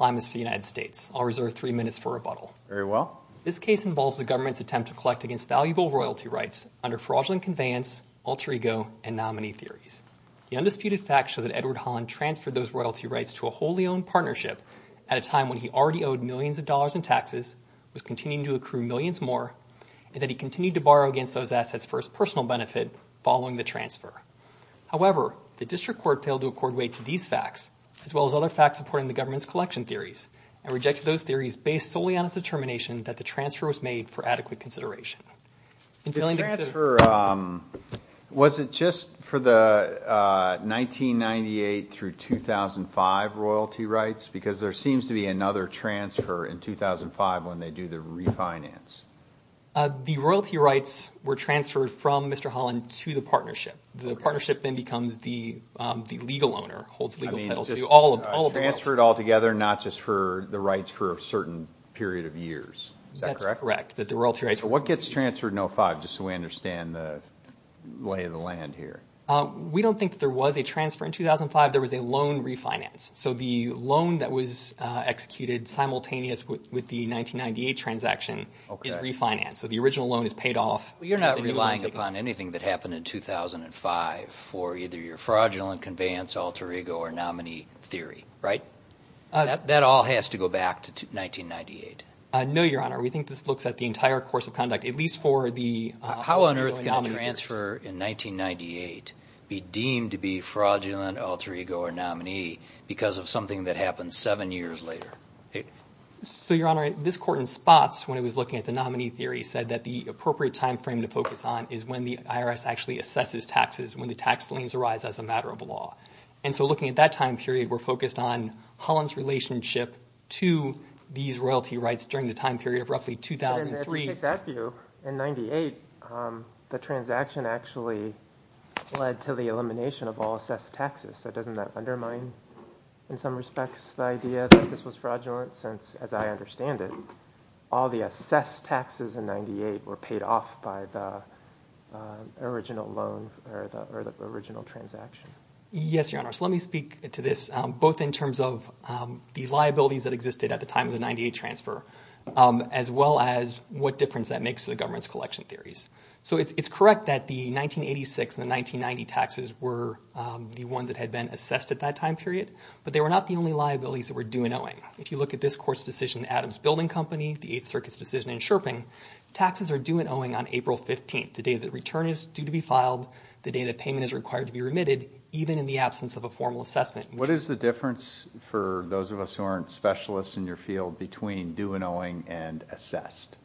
I'll reserve three minutes for rebuttal. Very well. This case involves the government's attempt to collect against valuable royalty rights under fraudulent conveyance, alter ego, and nominee theories. The undisputed facts show that Edward Holland transferred those royalty rights to a wholly owned partnership at a time when he already owed millions of dollars in taxes, was continuing to accrue millions more, and that he continued to borrow against those assets for his personal benefit following the transfer. However, the district court failed to accord weight to these facts, as well as other facts supporting the government's collection theories, and rejected those theories based solely on its determination that the transfer was made for adequate consideration. The transfer, was it just for the 1998 through 2005 royalty rights? Because there seems to be another transfer in 2005 when they do the refinance. The royalty rights were transferred from Mr. Holland to the partnership. The partnership then becomes the legal owner, holds legal titles to all of the royalties. So it was transferred all together, not just for the rights for a certain period of years. Is that correct? That's correct. So what gets transferred in 2005, just so we understand the lay of the land here? We don't think that there was a transfer in 2005. There was a loan refinance. So the loan that was executed simultaneous with the 1998 transaction is refinanced. So the original loan is paid off. You're not relying upon anything that happened in 2005 for either your fraudulent conveyance, alter ego, or nominee theory, right? That all has to go back to 1998. No, Your Honor. We think this looks at the entire course of conduct, at least for the... How on earth can a transfer in 1998 be deemed to be fraudulent, alter ego, or nominee because of something that happened seven years later? So Your Honor, this court in spots, when it was looking at the nominee theory, said that the appropriate time frame to focus on is when the IRS actually assesses taxes, when the tax liens arise as a matter of law. And so looking at that time period, we're focused on Holland's relationship to these royalty rights during the time period of roughly 2003 to... But if you take that view, in 1998, the transaction actually led to the elimination of all assessed taxes. So doesn't that undermine, in some respects, the idea that this was fraudulent? Since, as I understand it, all the assessed taxes in 1998 were paid off by the original loan or the original transaction. Yes, Your Honor. So let me speak to this, both in terms of the liabilities that existed at the time of the 98 transfer, as well as what difference that makes to the government's collection theories. So it's correct that the 1986 and the 1990 taxes were the ones that had been assessed at that time period, but they were not the only liabilities that were due and owing. If you look at this court's decision, Adams Building Company, the Eighth Circuit's decision in Sherping, taxes are due and owing on April 15th, the day that return is due to be filed, the day that payment is required to be remitted, even in the absence of a formal assessment. What is the difference, for those of us who aren't specialists in your field, between due and owing and assessed?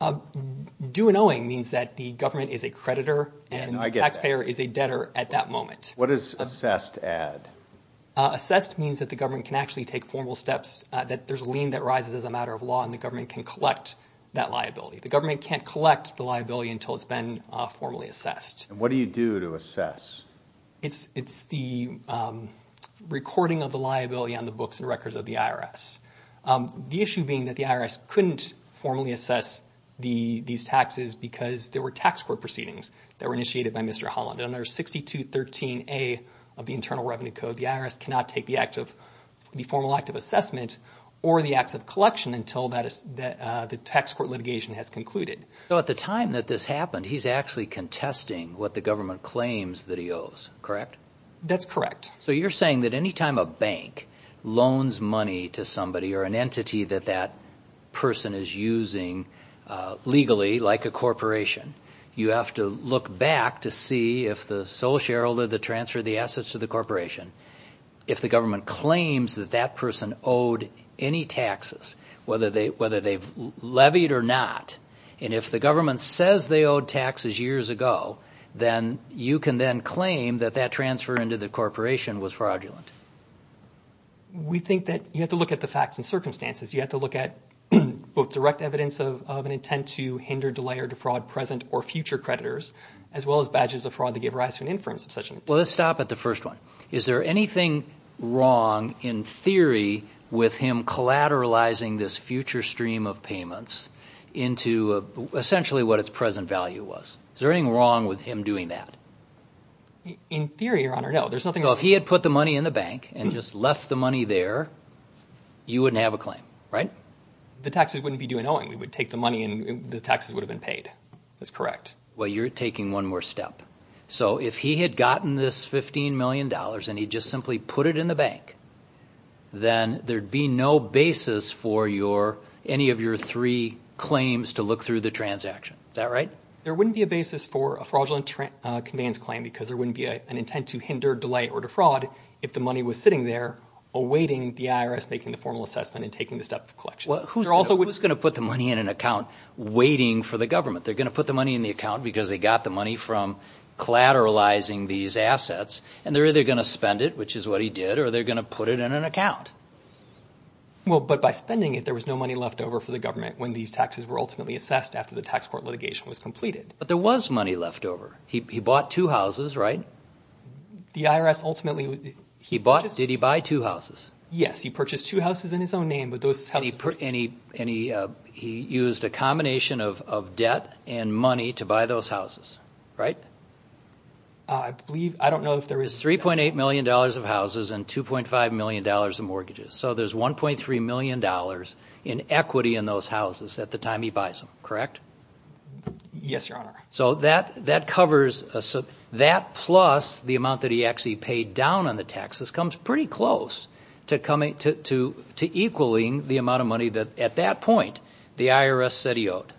Due and owing means that the government is a creditor and the taxpayer is a debtor at that moment. What does assessed add? Assessed means that the government can actually take formal steps, that there's a lien that rises as a matter of law and the government can collect that liability. The government can't collect the liability until it's been formally assessed. What do you do to assess? It's the recording of the liability on the books and records of the IRS. The issue being that the IRS couldn't formally assess these taxes because there were tax court proceedings that were initiated by Mr. Holland. Under 6213A of the Internal Revenue Code, the IRS cannot take the formal act of assessment or the acts of collection until the tax court litigation has concluded. So at the time that this happened, he's actually contesting what the government claims that he owes, correct? That's correct. So you're saying that any time a bank loans money to somebody or an entity that that person is using legally, like a corporation, you have to look back to see if the sole shareholder that transferred the assets to the corporation, if the government claims that that person owed any taxes, whether they've levied or not, and if the government says they owed taxes years ago, then you can then claim that that transfer into the corporation was fraudulent. We think that you have to look at the facts and circumstances. You have to look at both direct evidence of an intent to hinder, delay, or defraud present or future creditors, as well as badges of fraud that give rise to an inference of such an intent. Well, let's stop at the first one. Is there anything wrong in theory with him collateralizing this future stream of payments into essentially what its present value was? Is there anything wrong with him doing that? In theory, Your Honor, no. There's nothing wrong. So if he had put the money in the bank and just left the money there, you wouldn't have a claim, right? The taxes wouldn't be due in owing. We would take the money and the taxes would have been paid. That's correct. Well, you're taking one more step. So if he had gotten this $15 million and he just simply put it in the bank, then there'd be no basis for any of your three claims to look through the transaction. Is that right? There wouldn't be a basis for a fraudulent conveyance claim because there wouldn't be an intent to hinder, delay, or defraud if the money was sitting there awaiting the IRS making the formal assessment and taking the step of collection. Who's going to put the money in an account waiting for the government? They're going to put the money in the account because they got the money from collateralizing these assets, and they're either going to spend it, which is what he did, or they're going to put it in an account. Well, but by spending it, there was no money left over for the government when these taxes were ultimately assessed after the tax court litigation was completed. But there was money left over. He bought two houses, right? The IRS ultimately... He bought... Did he buy two houses? Yes. He purchased two houses in his own name. And he used a combination of debt and money to buy those houses, right? I believe... I don't know if there is... It's $3.8 million of houses and $2.5 million of mortgages. So there's $1.3 million in equity in those houses at the time he buys them, correct? Yes, Your Honor. So that covers... That plus the amount that he actually paid down on the taxes comes pretty close to equaling the amount of money that, at that point, the IRS said he owed.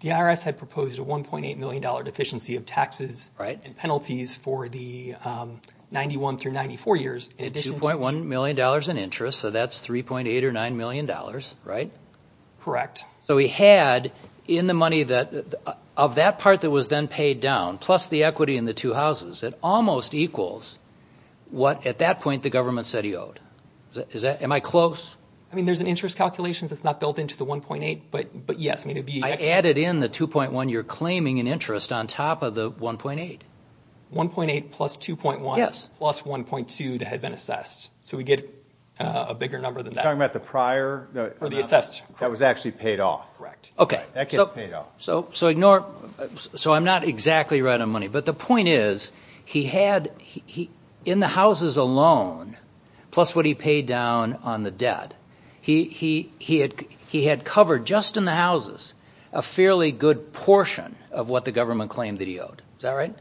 The IRS had proposed a $1.8 million deficiency of taxes and penalties for the 91 through 94 years in addition to... $2.1 million in interest, so that's $3.8 or $9 million, right? Correct. So he had, in the money that... Of that part that was then paid down, plus the equity in the two houses, it almost equals what, at that point, the government said he owed. Am I close? I mean, there's an interest calculation that's not built into the $1.8, but yes, I mean, it would be... I added in the $2.1 you're claiming in interest on top of the $1.8. $1.8 plus $2.1 plus $1.2 that had been assessed. So we get a bigger number than that. You're talking about the prior? Or the assessed? That's correct. That was actually paid off. Correct. Okay. That gets paid off. So ignore... So I'm not exactly right on money, but the point is, he had, in the houses alone, plus what he paid down on the debt, he had covered, just in the houses, a fairly good portion of what the government claimed that he owed. Is that right?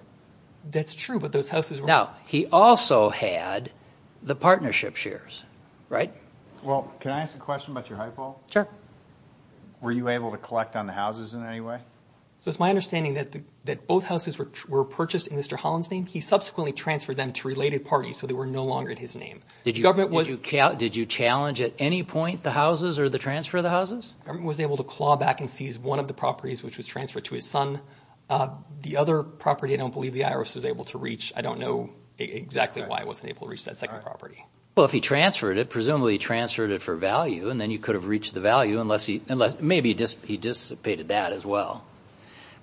That's true, but those houses were... Now, he also had the partnership shares, right? Well, can I ask a question about your high ball? Sure. Were you able to collect on the houses in any way? So it's my understanding that both houses were purchased in Mr. Holland's name. He subsequently transferred them to related parties, so they were no longer in his name. Did you challenge at any point the houses or the transfer of the houses? The government was able to claw back and seize one of the properties, which was transferred to his son. The other property, I don't believe the IRS was able to reach. I don't know exactly why it wasn't able to reach that second property. Well, if he transferred it, presumably he transferred it for value, and then you could have reached the value, unless maybe he dissipated that as well.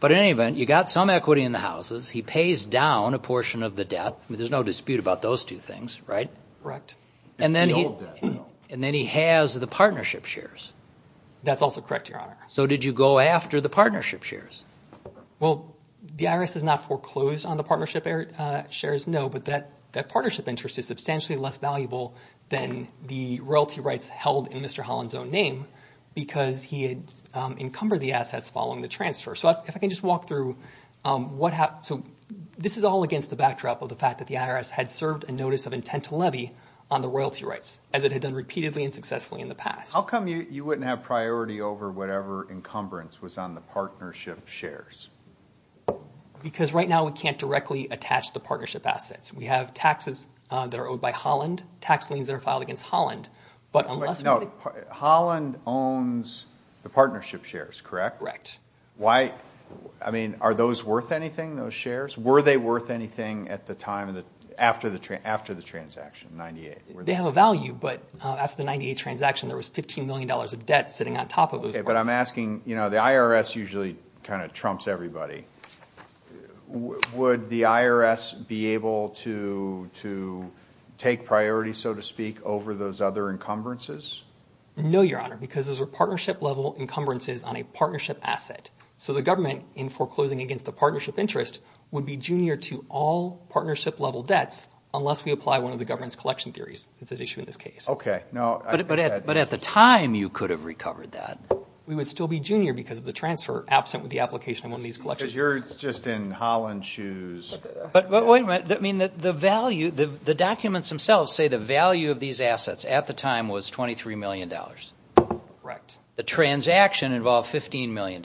But in any event, you got some equity in the houses. He pays down a portion of the debt, but there's no dispute about those two things, right? Correct. It's the old debt, though. And then he has the partnership shares. That's also correct, Your Honor. So did you go after the partnership shares? Well, the IRS has not foreclosed on the partnership shares, no, but that partnership interest is substantially less valuable than the royalty rights held in Mr. Holland's own name because he had encumbered the assets following the transfer. So if I can just walk through what happened. So this is all against the backdrop of the fact that the IRS had served a notice of intent to levy on the royalty rights, as it had done repeatedly and successfully in the past. How come you wouldn't have priority over whatever encumbrance was on the partnership shares? Because right now we can't directly attach the partnership assets. We have taxes that are owed by Holland, tax liens that are filed against Holland. But unless... Wait, no. Holland owns the partnership shares, correct? Correct. Why? I mean, are those worth anything, those shares? Were they worth anything at the time, after the transaction, in 98? They have a value, but after the 98 transaction, there was $15 million of debt sitting on top of those. Okay, but I'm asking, you know, the IRS usually kind of trumps everybody. Would the IRS be able to take priority, so to speak, over those other encumbrances? No, Your Honor, because those are partnership-level encumbrances on a partnership asset. So the government, in foreclosing against the partnership interest, would be junior to all partnership-level debts, unless we apply one of the government's collection theories. It's an issue in this case. Okay. No, I think that... But at the time, you could have recovered that. We would still be junior because of the transfer, absent with the application on one of these shares. You're just in Holland's shoes. But wait a minute. I mean, the value, the documents themselves say the value of these assets, at the time, was $23 million. Correct. The transaction involved $15 million.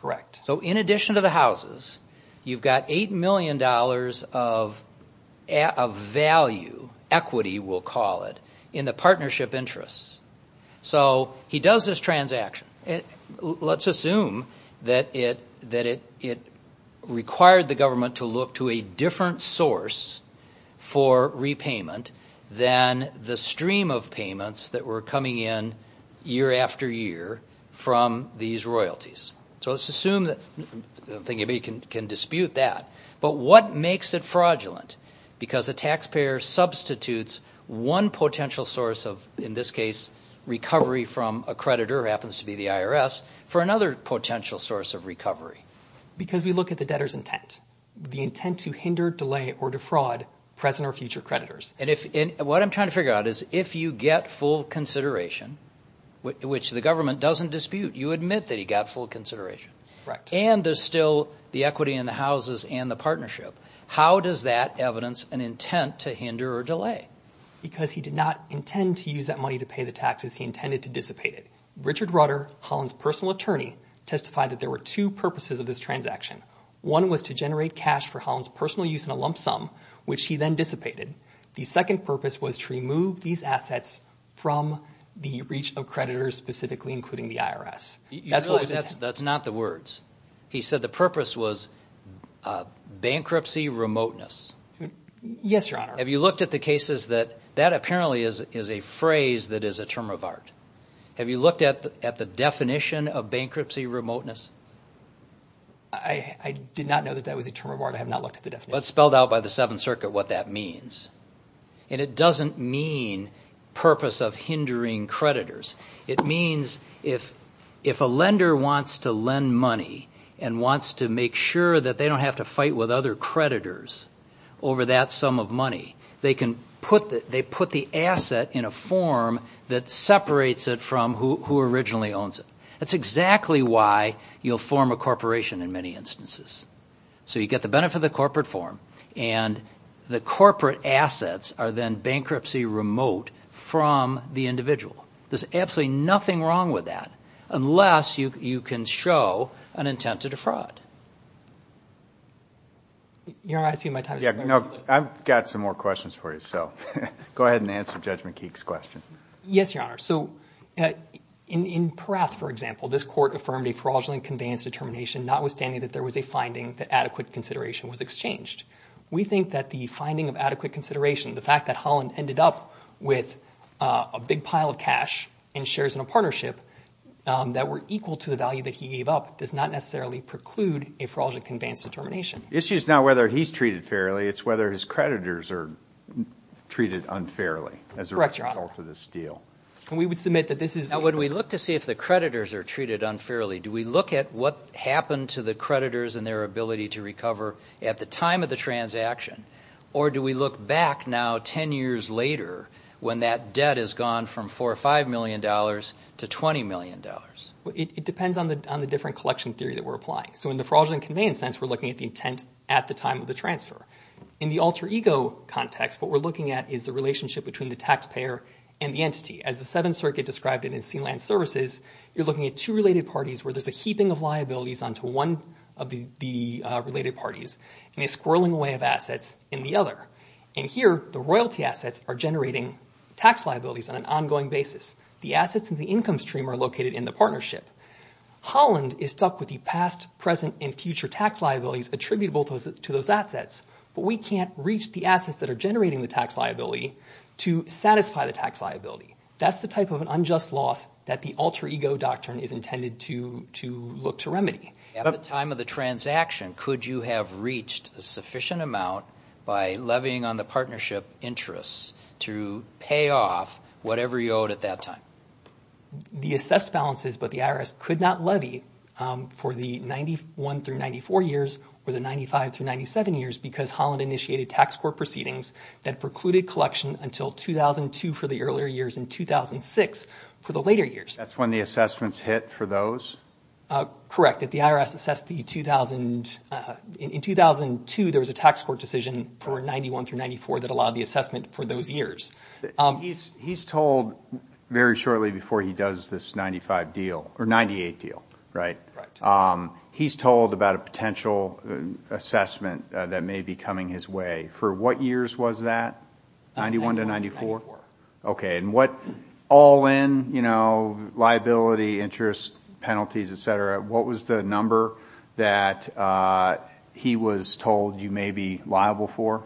Correct. So in addition to the houses, you've got $8 million of value, equity, we'll call it, in the partnership interest. So he does this transaction. Let's assume that it required the government to look to a different source for repayment than the stream of payments that were coming in year after year from these royalties. So let's assume that... I don't think anybody can dispute that. But what makes it fraudulent? Because a taxpayer substitutes one potential source of, in this case, recovery from a creditor happens to be the IRS, for another potential source of recovery. Because we look at the debtor's intent, the intent to hinder, delay, or defraud present or future creditors. And what I'm trying to figure out is if you get full consideration, which the government doesn't dispute, you admit that he got full consideration, and there's still the equity in the houses and the partnership, how does that evidence an intent to hinder or delay? Because he did not intend to use that money to pay the taxes. He intended to dissipate it. Richard Rudder, Holland's personal attorney, testified that there were two purposes of this transaction. One was to generate cash for Holland's personal use in a lump sum, which he then dissipated. The second purpose was to remove these assets from the reach of creditors, specifically including the IRS. You realize that's not the words. He said the purpose was bankruptcy remoteness. Yes, Your Honor. Have you looked at the cases that... That apparently is a phrase that is a term of art. Have you looked at the definition of bankruptcy remoteness? I did not know that that was a term of art. I have not looked at the definition. Well, it's spelled out by the Seventh Circuit what that means. And it doesn't mean purpose of hindering creditors. It means if a lender wants to lend money and wants to make sure that they don't have to fight with other creditors over that sum of money, they can put the asset in a form that separates it from who originally owns it. That's exactly why you'll form a corporation in many instances. So you get the benefit of the corporate form, and the corporate assets are then bankruptcy remote from the individual. There's absolutely nothing wrong with that unless you can show an intent to defraud. Your Honor, I assume my time is up. I've got some more questions for you, so go ahead and answer Judge McKeek's question. Yes, Your Honor. So in Perrath, for example, this court affirmed a fraudulent conveyance determination notwithstanding that there was a finding that adequate consideration was exchanged. We think that the finding of adequate consideration, the fact that Holland ended up with a big pile of cash and shares in a partnership that were equal to the value that he gave up, does not necessarily preclude a fraudulent conveyance determination. Issue is not whether he's treated fairly, it's whether his creditors are treated unfairly Correct, Your Honor. as a result of this deal. And we would submit that this is Now, would we look to see if the creditors are treated unfairly? Do we look at what happened to the creditors and their ability to recover at the time of the transaction? Or do we look back now, 10 years later, when that debt has gone from $4 or $5 million to $20 million? It depends on the different collection theory that we're applying. So in the fraudulent conveyance sense, we're looking at the intent at the time of the transfer. In the alter ego context, what we're looking at is the relationship between the taxpayer and the entity. As the Seventh Circuit described it in Sealand Services, you're looking at two related parties where there's a heaping of liabilities onto one of the related parties, and a squirreling way of assets in the other. And here, the royalty assets are generating tax liabilities on an ongoing basis. The assets in the income stream are located in the partnership. Holland is stuck with the past, present, and future tax liabilities attributable to those assets. But we can't reach the assets that are generating the tax liability to satisfy the tax liability. That's the type of an unjust loss that the alter ego doctrine is intended to look to remedy. At the time of the transaction, could you have reached a sufficient amount by levying on the partnership interests to pay off whatever you owed at that time? The assessed balances, but the IRS could not levy for the 91 through 94 years, or the 95 through 97 years, because Holland initiated tax court proceedings that precluded collection until 2002 for the earlier years, and 2006 for the later years. That's when the assessments hit for those? Correct. If the IRS assessed the 2000, in 2002, there was a tax court decision for 91 through 94 that allowed the assessment for those years. He's told very shortly before he does this 95 deal, or 98 deal, right? Right. He's told about a potential assessment that may be coming his way. For what years was that, 91 to 94? 94. Okay. And what all in, you know, liability, interest, penalties, et cetera, what was the number that he was told you may be liable for?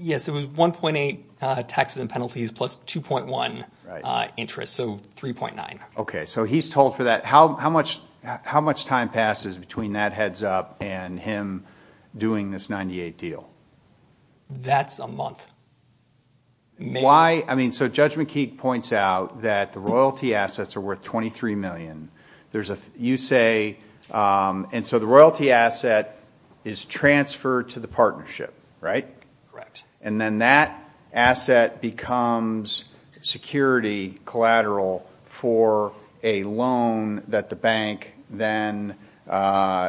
Yes, it was 1.8 taxes and penalties plus 2.1 interest, so 3.9. Okay. So he's told for that. How much time passes between that heads up and him doing this 98 deal? That's a month. Why? I mean, so Judge McKeek points out that the royalty assets are worth 23 million. You say, and so the royalty asset is transferred to the partnership, right? Correct. And then that asset becomes security collateral for a loan that the bank then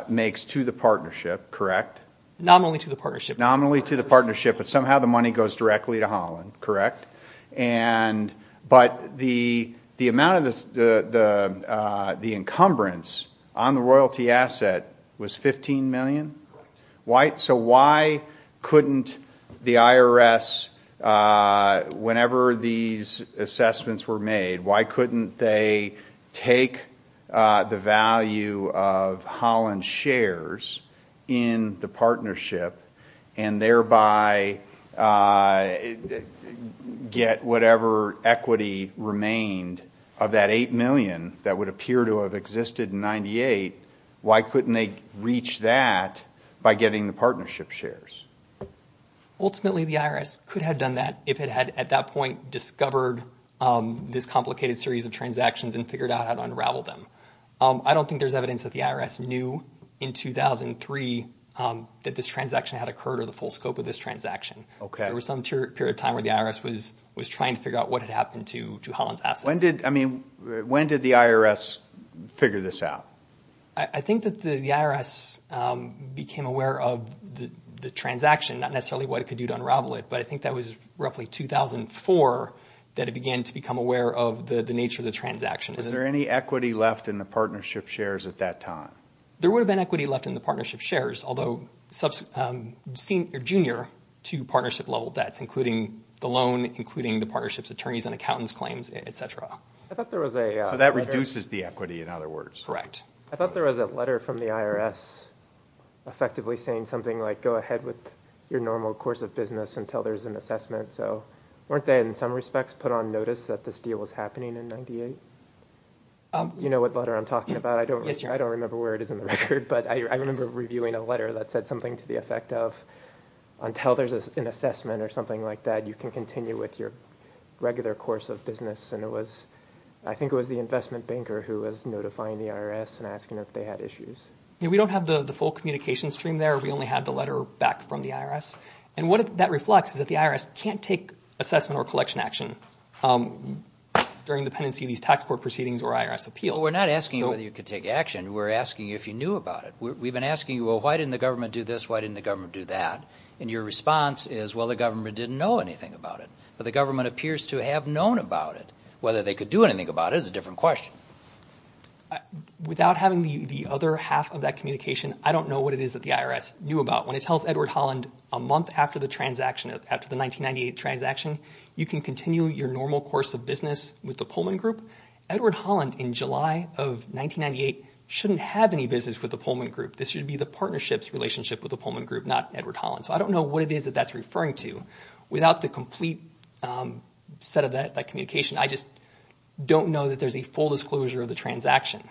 makes to the partnership, correct? Nominally to the partnership. Nominally to the partnership, but somehow the money goes directly to Holland, correct? But the amount of the encumbrance on the royalty asset was 15 million? Correct. So why couldn't the IRS, whenever these assessments were made, why couldn't they take the value of Holland shares in the partnership and thereby get whatever equity remained of that 8 million that would appear to have existed in 98? Why couldn't they reach that by getting the partnership shares? Ultimately, the IRS could have done that if it had at that point discovered this complicated series of transactions and figured out how to unravel them. I don't think there's evidence that the IRS knew in 2003 that this transaction had occurred or the full scope of this transaction. Okay. There was some period of time where the IRS was trying to figure out what had happened to Holland's assets. When did the IRS figure this out? I think that the IRS became aware of the transaction, not necessarily what it could do to unravel it, but I think that was roughly 2004 that it began to become aware of the nature of the transaction. Was there any equity left in the partnership shares at that time? There would have been equity left in the partnership shares, although junior to partnership level debts, including the loan, including the partnership's attorneys and accountants' claims, et cetera. So that reduces the equity, in other words. Correct. I thought there was a letter from the IRS effectively saying something like, go ahead with your normal course of business until there's an assessment. So weren't they, in some respects, put on notice that this deal was happening in 98? You know what letter I'm talking about? Yes, sir. I don't remember where it is in the record, but I remember reviewing a letter that said something to the effect of, until there's an assessment or something like that, you can continue with your regular course of business, and it was, I think it was the investment banker who was notifying the IRS and asking if they had issues. We don't have the full communication stream there. We only have the letter back from the IRS, and what that reflects is that the IRS can't take assessment or collection action during the pendency of these tax court proceedings or IRS appeals. Well, we're not asking you whether you could take action. We're asking you if you knew about it. We've been asking you, well, why didn't the government do this, why didn't the government do that? And your response is, well, the government didn't know anything about it, but the government appears to have known about it. Whether they could do anything about it is a different question. Without having the other half of that communication, I don't know what it is that the IRS knew about. When it tells Edward Holland a month after the transaction, after the 1998 transaction, you can continue your normal course of business with the Pullman Group, Edward Holland in the Pullman Group. This should be the partnership's relationship with the Pullman Group, not Edward Holland's. So I don't know what it is that that's referring to. Without the complete set of that communication, I just don't know that there's a full disclosure of the transaction.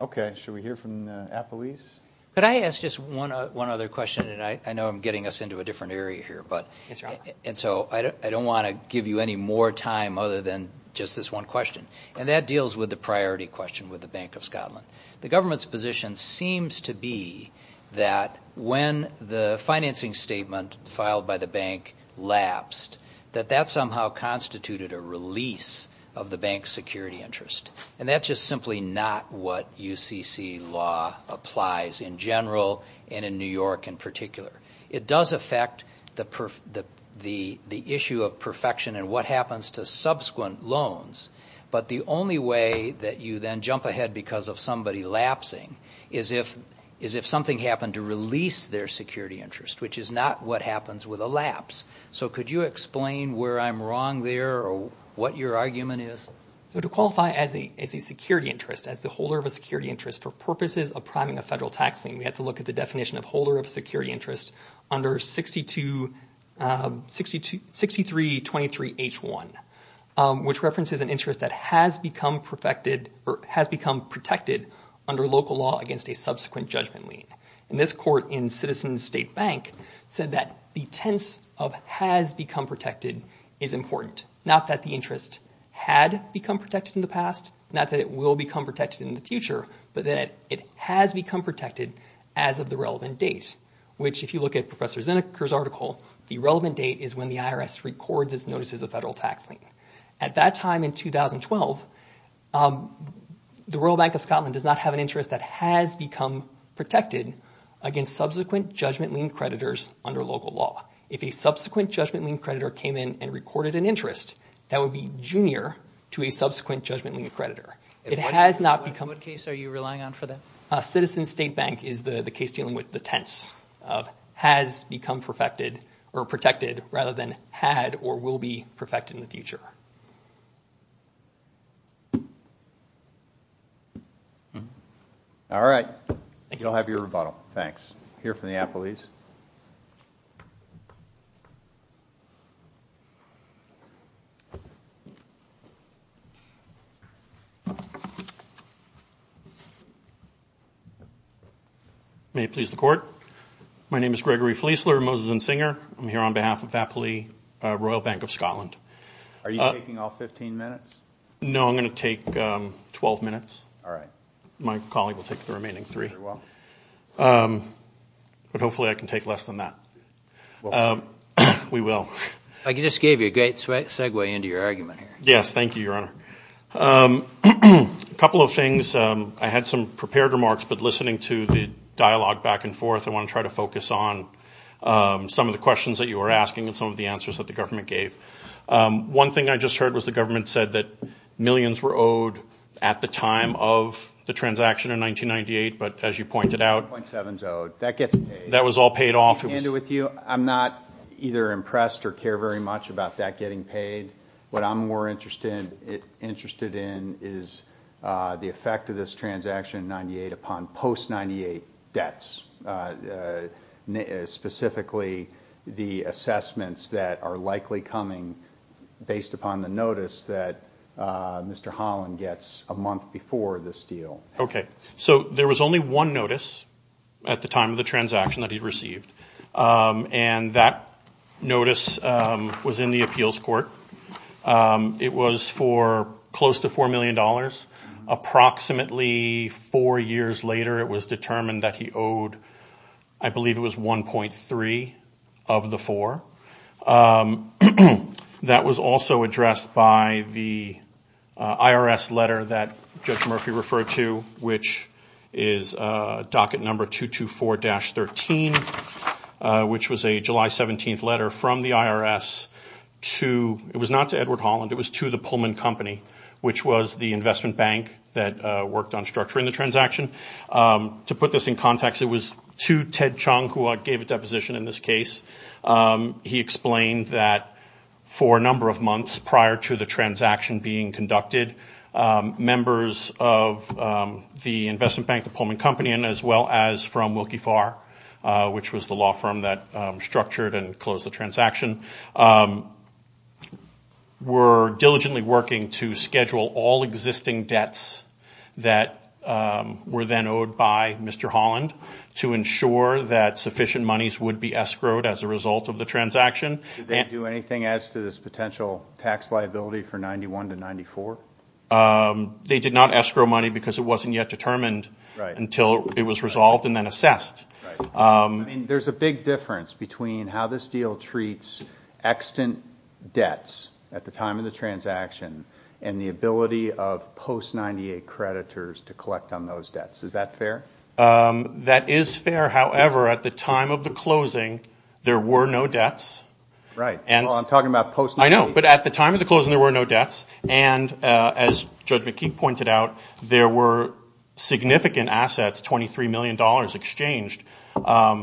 Okay. Should we hear from Appalese? Could I ask just one other question? I know I'm getting us into a different area here, and so I don't want to give you any more time other than just this one question, and that deals with the priority question with the Bank of Scotland. The government's position seems to be that when the financing statement filed by the bank lapsed, that that somehow constituted a release of the bank's security interest. And that's just simply not what UCC law applies in general and in New York in particular. It does affect the issue of perfection and what happens to subsequent loans. But the only way that you then jump ahead because of somebody lapsing is if something happened to release their security interest, which is not what happens with a lapse. So could you explain where I'm wrong there or what your argument is? So to qualify as a security interest, as the holder of a security interest, for purposes of priming a federal tax lien, we have to look at the definition of holder of security H1, which references an interest that has become protected under local law against a subsequent judgment lien. And this court in Citizens State Bank said that the tense of has become protected is important, not that the interest had become protected in the past, not that it will become protected in the future, but that it has become protected as of the relevant date, which if you look at Professor Zinnecker's article, the relevant date is when the IRS records its notice as a federal tax lien. At that time in 2012, the Royal Bank of Scotland does not have an interest that has become protected against subsequent judgment lien creditors under local law. If a subsequent judgment lien creditor came in and recorded an interest, that would be junior to a subsequent judgment lien creditor. It has not become... In what case are you relying on for that? Citizens State Bank is the case dealing with the tense of has become perfected or protected rather than had or will be perfected in the future. All right, you'll have your rebuttal. Here from the Applebee's. May it please the Court. My name is Gregory Fleisler, Moses and Singer. I'm here on behalf of Applebee's Royal Bank of Scotland. Are you taking all 15 minutes? No, I'm going to take 12 minutes. My colleague will take the remaining three. But hopefully I can take less than that. We will. I just gave you a great segue into your argument here. Yes, thank you, Your Honor. A couple of things. I had some prepared remarks, but listening to the dialogue back and forth, I want to try to focus on some of the questions that you were asking and some of the answers that the government gave. One thing I just heard was the government said that millions were owed at the time of the transaction in 1998, but as you pointed out, that was all paid off. I'm not either impressed or care very much about that getting paid. What I'm more interested in is the effect of this transaction in 1998 upon post-98 debts. Specifically the assessments that are likely coming based upon the notice that Mr. Holland gets a month before this deal. Okay. So there was only one notice at the time of the transaction that he received, and that It was for close to $4 million. Approximately four years later, it was determined that he owed, I believe it was 1.3 of the four. That was also addressed by the IRS letter that Judge Murphy referred to, which is docket number 224-13, which was a July 17th letter from the IRS. It was not to Edward Holland, it was to the Pullman Company, which was the investment bank that worked on structuring the transaction. To put this in context, it was to Ted Chung, who I gave a deposition in this case. He explained that for a number of months prior to the transaction being conducted, members of the investment bank, the Pullman Company, as well as from Wilkie Farr, which was the owner of the transaction, were diligently working to schedule all existing debts that were then owed by Mr. Holland to ensure that sufficient monies would be escrowed as a result of the transaction. Did they do anything as to this potential tax liability for 91 to 94? They did not escrow money because it wasn't yet determined until it was resolved and then assessed. There's a big difference between how this deal treats extant debts at the time of the transaction and the ability of post-98 creditors to collect on those debts. Is that fair? That is fair. However, at the time of the closing, there were no debts. Right. I'm talking about post-98. As Judge McKee pointed out, there were significant assets, $23 million exchanged,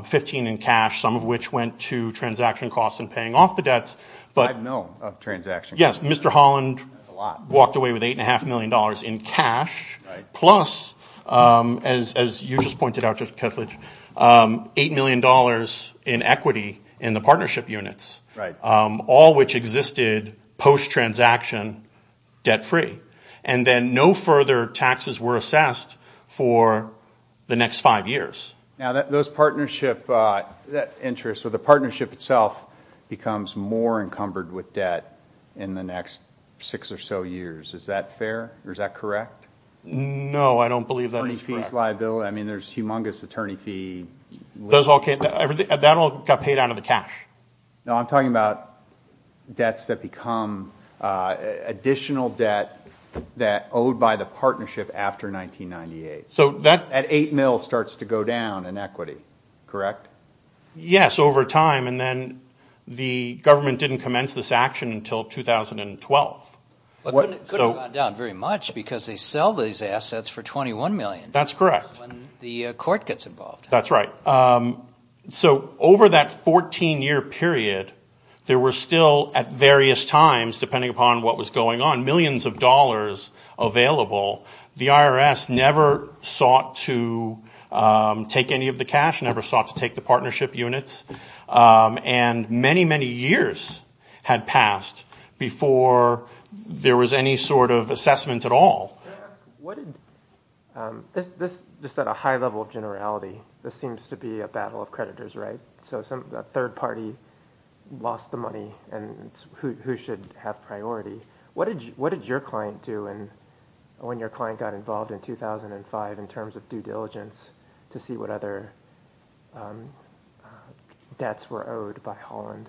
15 in cash, some of which went to transaction costs and paying off the debts. Five million of transaction costs. Yes. Mr. Holland walked away with $8.5 million in cash, plus, as you just pointed out, Judge Kesslidge, $8 million in equity in the partnership units. Right. All which existed post-transaction debt-free. And then no further taxes were assessed for the next five years. Those partnership interests or the partnership itself becomes more encumbered with debt in the next six or so years. Is that fair? Is that correct? No. I don't believe that. I mean, there's humongous attorney fee. That all got paid out of the cash. No, I'm talking about debts that become additional debt that owed by the partnership after 1998. So that... At 8 mil starts to go down in equity, correct? Yes, over time. And then the government didn't commence this action until 2012. But then it couldn't have gone down very much because they sell these assets for $21 million. That's correct. When the court gets involved. That's right. So over that 14-year period, there were still at various times, depending upon what was going on, millions of dollars available. The IRS never sought to take any of the cash, never sought to take the partnership units. And many, many years had passed before there was any sort of assessment at all. Can I ask, just at a high level of generality, this seems to be a battle of creditors, right? So a third party lost the money and who should have priority? What did your client do when your client got involved in 2005 in terms of due diligence to see what other debts were owed by Holland?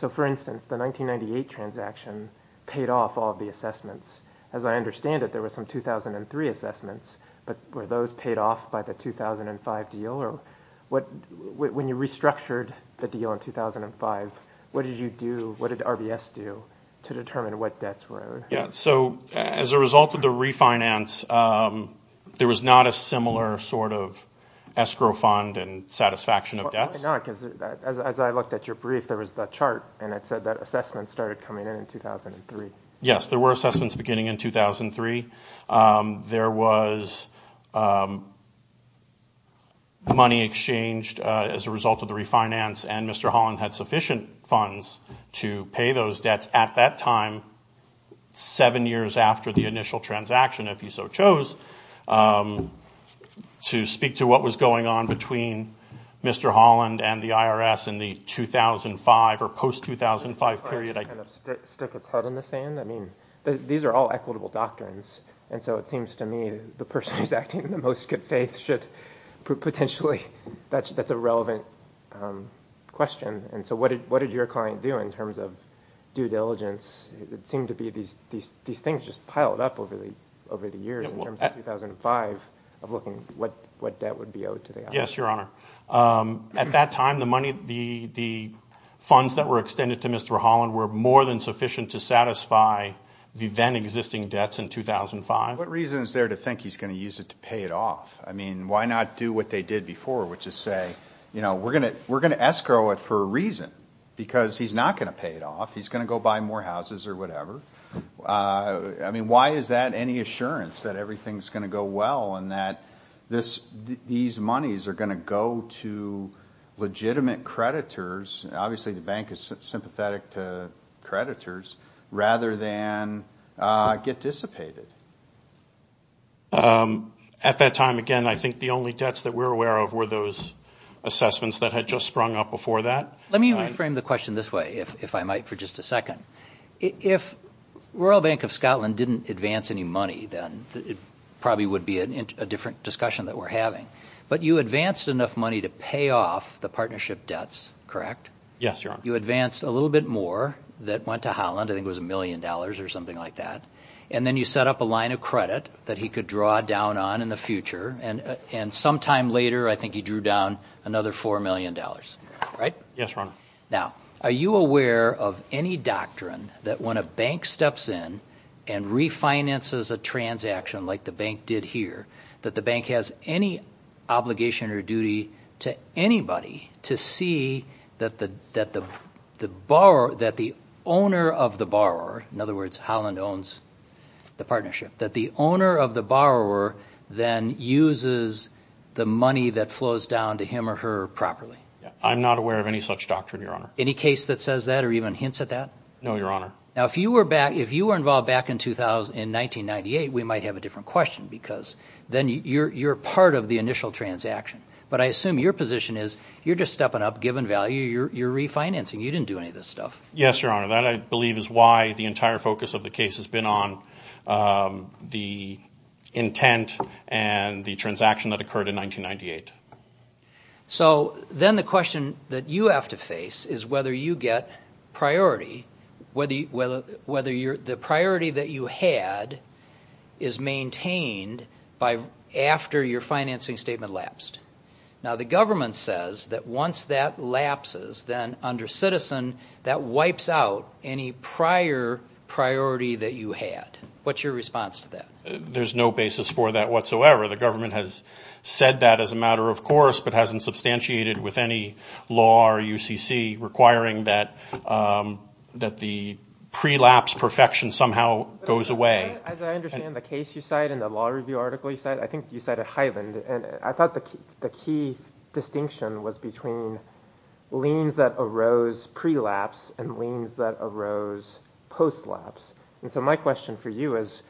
So for instance, the 1998 transaction paid off all of the assessments. As I understand it, there were some 2003 assessments. But were those paid off by the 2005 deal? When you restructured the deal in 2005, what did you do? What did RBS do to determine what debts were owed? Yes, so as a result of the refinance, there was not a similar sort of escrow fund and satisfaction of debts. As I looked at your brief, there was the chart and it said that assessments started coming in in 2003. Yes, there were assessments beginning in 2003. There was money exchanged as a result of the refinance, and Mr. Holland had sufficient funds to pay those debts at that time, seven years after the initial transaction, if he so chose, to speak to what was going on between Mr. Holland and the IRS in the 2005 or post-2005 period. Stick a club in the sand? These are all equitable doctrines, and so it seems to me the person who is acting in the most good faith should potentially... That's a relevant question. And so what did your client do in terms of due diligence? It seemed to be these things just piled up over the years in terms of 2005, of looking at what debt would be owed to the IRS. Yes, Your Honor. At that time, the funds that were extended to Mr. Holland were more than sufficient to satisfy the then-existing debts in 2005. What reason is there to think he's going to use it to pay it off? I mean, why not do what they did before, which is say, you know, we're going to escrow it for a reason, because he's not going to pay it off. He's going to go buy more houses or whatever. I mean, why is that any assurance that everything's going to go well and that these monies are going to go to legitimate creditors? Obviously, the bank is sympathetic to creditors, rather than get dissipated. At that time, again, I think the only debts that we're aware of were those assessments that had just sprung up before that. Let me reframe the question this way, if I might, for just a second. If Royal Bank of Scotland didn't advance any money, then it probably would be a different discussion that we're having. But you advanced enough money to pay off the partnership debts, correct? Yes, Your Honor. You advanced a little bit more that went to Holland, I think it was $1 million or something like that, and then you set up a line of credit that he could draw down on in the future, and some time later, I think he drew down another $4 million, right? Yes, Your Honor. Now, are you aware of any doctrine that when a bank steps in and refinances a transaction like the bank did here, that the bank has any obligation or duty to anybody to see that the owner of the borrower, in other words, Holland owns the partnership, that the owner of the borrower then uses the money that flows down to him or her properly? I'm not aware of any such doctrine, Your Honor. Any case that says that or even hints at that? No, Your Honor. Now, if you were involved back in 1998, we might have a different question, because then you're part of the initial transaction. But I assume your position is you're just stepping up, giving value, you're refinancing, you didn't do any of this stuff. Yes, Your Honor, that I believe is why the entire focus of the case has been on the intent and the transaction that occurred in 1998. So then the question that you have to face is whether you get priority, whether the priority that you had is maintained after your financing statement lapsed. Now, the government says that once that lapses, then under citizen, that wipes out any prior priority that you had. What's your response to that? There's no basis for that whatsoever. The government has said that as a matter of course, but hasn't substantiated with any law or UCC requiring that the pre-lapse perfection somehow goes away. As I understand the case you cite and the law review article you cite, I think you cited Highland. And I thought the key distinction was between liens that arose pre-lapse and liens that arose post-lapse. And so my question for you is,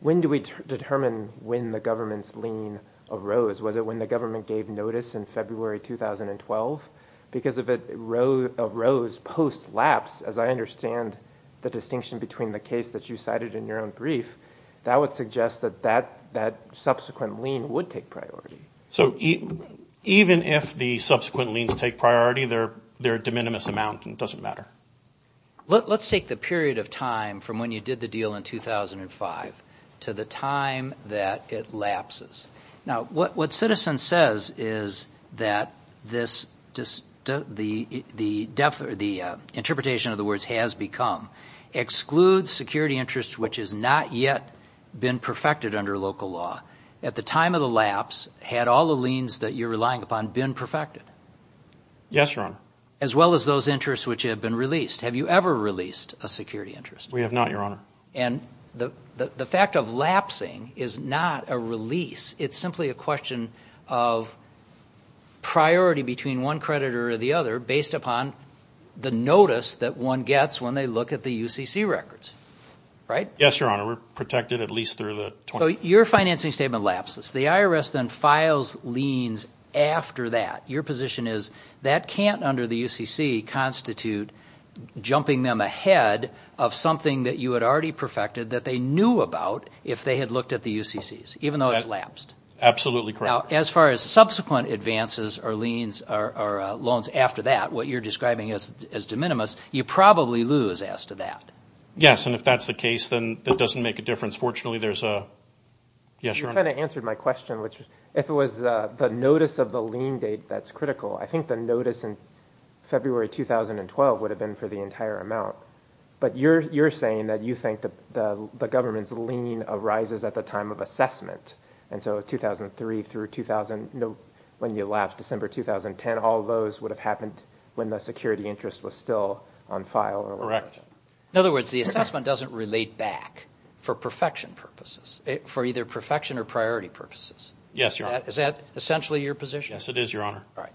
when do we determine when the government's lien arose? Was it when the government gave notice in February 2012? Because if it arose post-lapse, as I understand the distinction between the case that you cited in your own brief, that would suggest that that subsequent lien would take priority. So even if the subsequent liens take priority, they're a de minimis amount and it doesn't matter. Let's take the period of time from when you did the deal in 2005 to the time that it lapses. Now, what Citizen says is that the interpretation of the words has become, excludes security interest which has not yet been perfected under local law. At the time of the lapse, had all the liens that you're relying upon been perfected? Yes, Your Honor. As well as those interests which have been released. Have you ever released a security interest? We have not, Your Honor. And the fact of lapsing is not a release. It's simply a question of priority between one creditor or the other based upon the notice that one gets when they look at the UCC records. Right? Yes, Your Honor. We're protected at least through the... So your financing statement lapses. The IRS then files liens after that. Your position is that can't, under the UCC, constitute jumping them ahead of something that you had already perfected that they knew about if they had looked at the UCCs, even though it's lapsed? Absolutely correct. Now, as far as subsequent advances or loans after that, what you're describing as de minimis, you probably lose as to that. Yes, and if that's the case, then that doesn't make a difference. Fortunately, there's a... Yes, Your Honor. You kind of answered my question, which if it was the notice of the lien date, that's critical. I think the notice in February 2012 would have been for the entire amount. But you're saying that you think the government's lien arises at the time of assessment. And so 2003 through 2000, when you lapse, December 2010, all those would have happened when the security interest was still on file. Correct. In other words, the assessment doesn't relate back for perfection purposes, for either perfection or priority purposes. Yes, Your Honor. Is that essentially your position? Yes, it is, Your Honor. All right.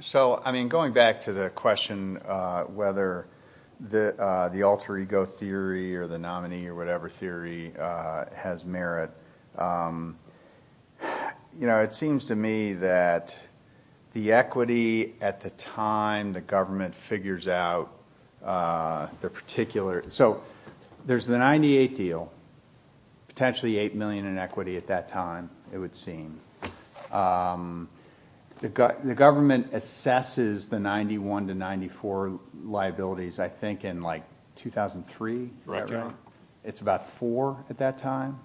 So, I mean, going back to the question whether the alter ego theory or the nominee or whatever theory has merit, it seems to me that the equity at the time the government figures out the particular... So there's the 98 deal, potentially $8 million in equity at that time, it would seem. The government assesses the 91 to 94 liabilities, I think, in like 2003? Correct, Your Honor. It's about four at that time?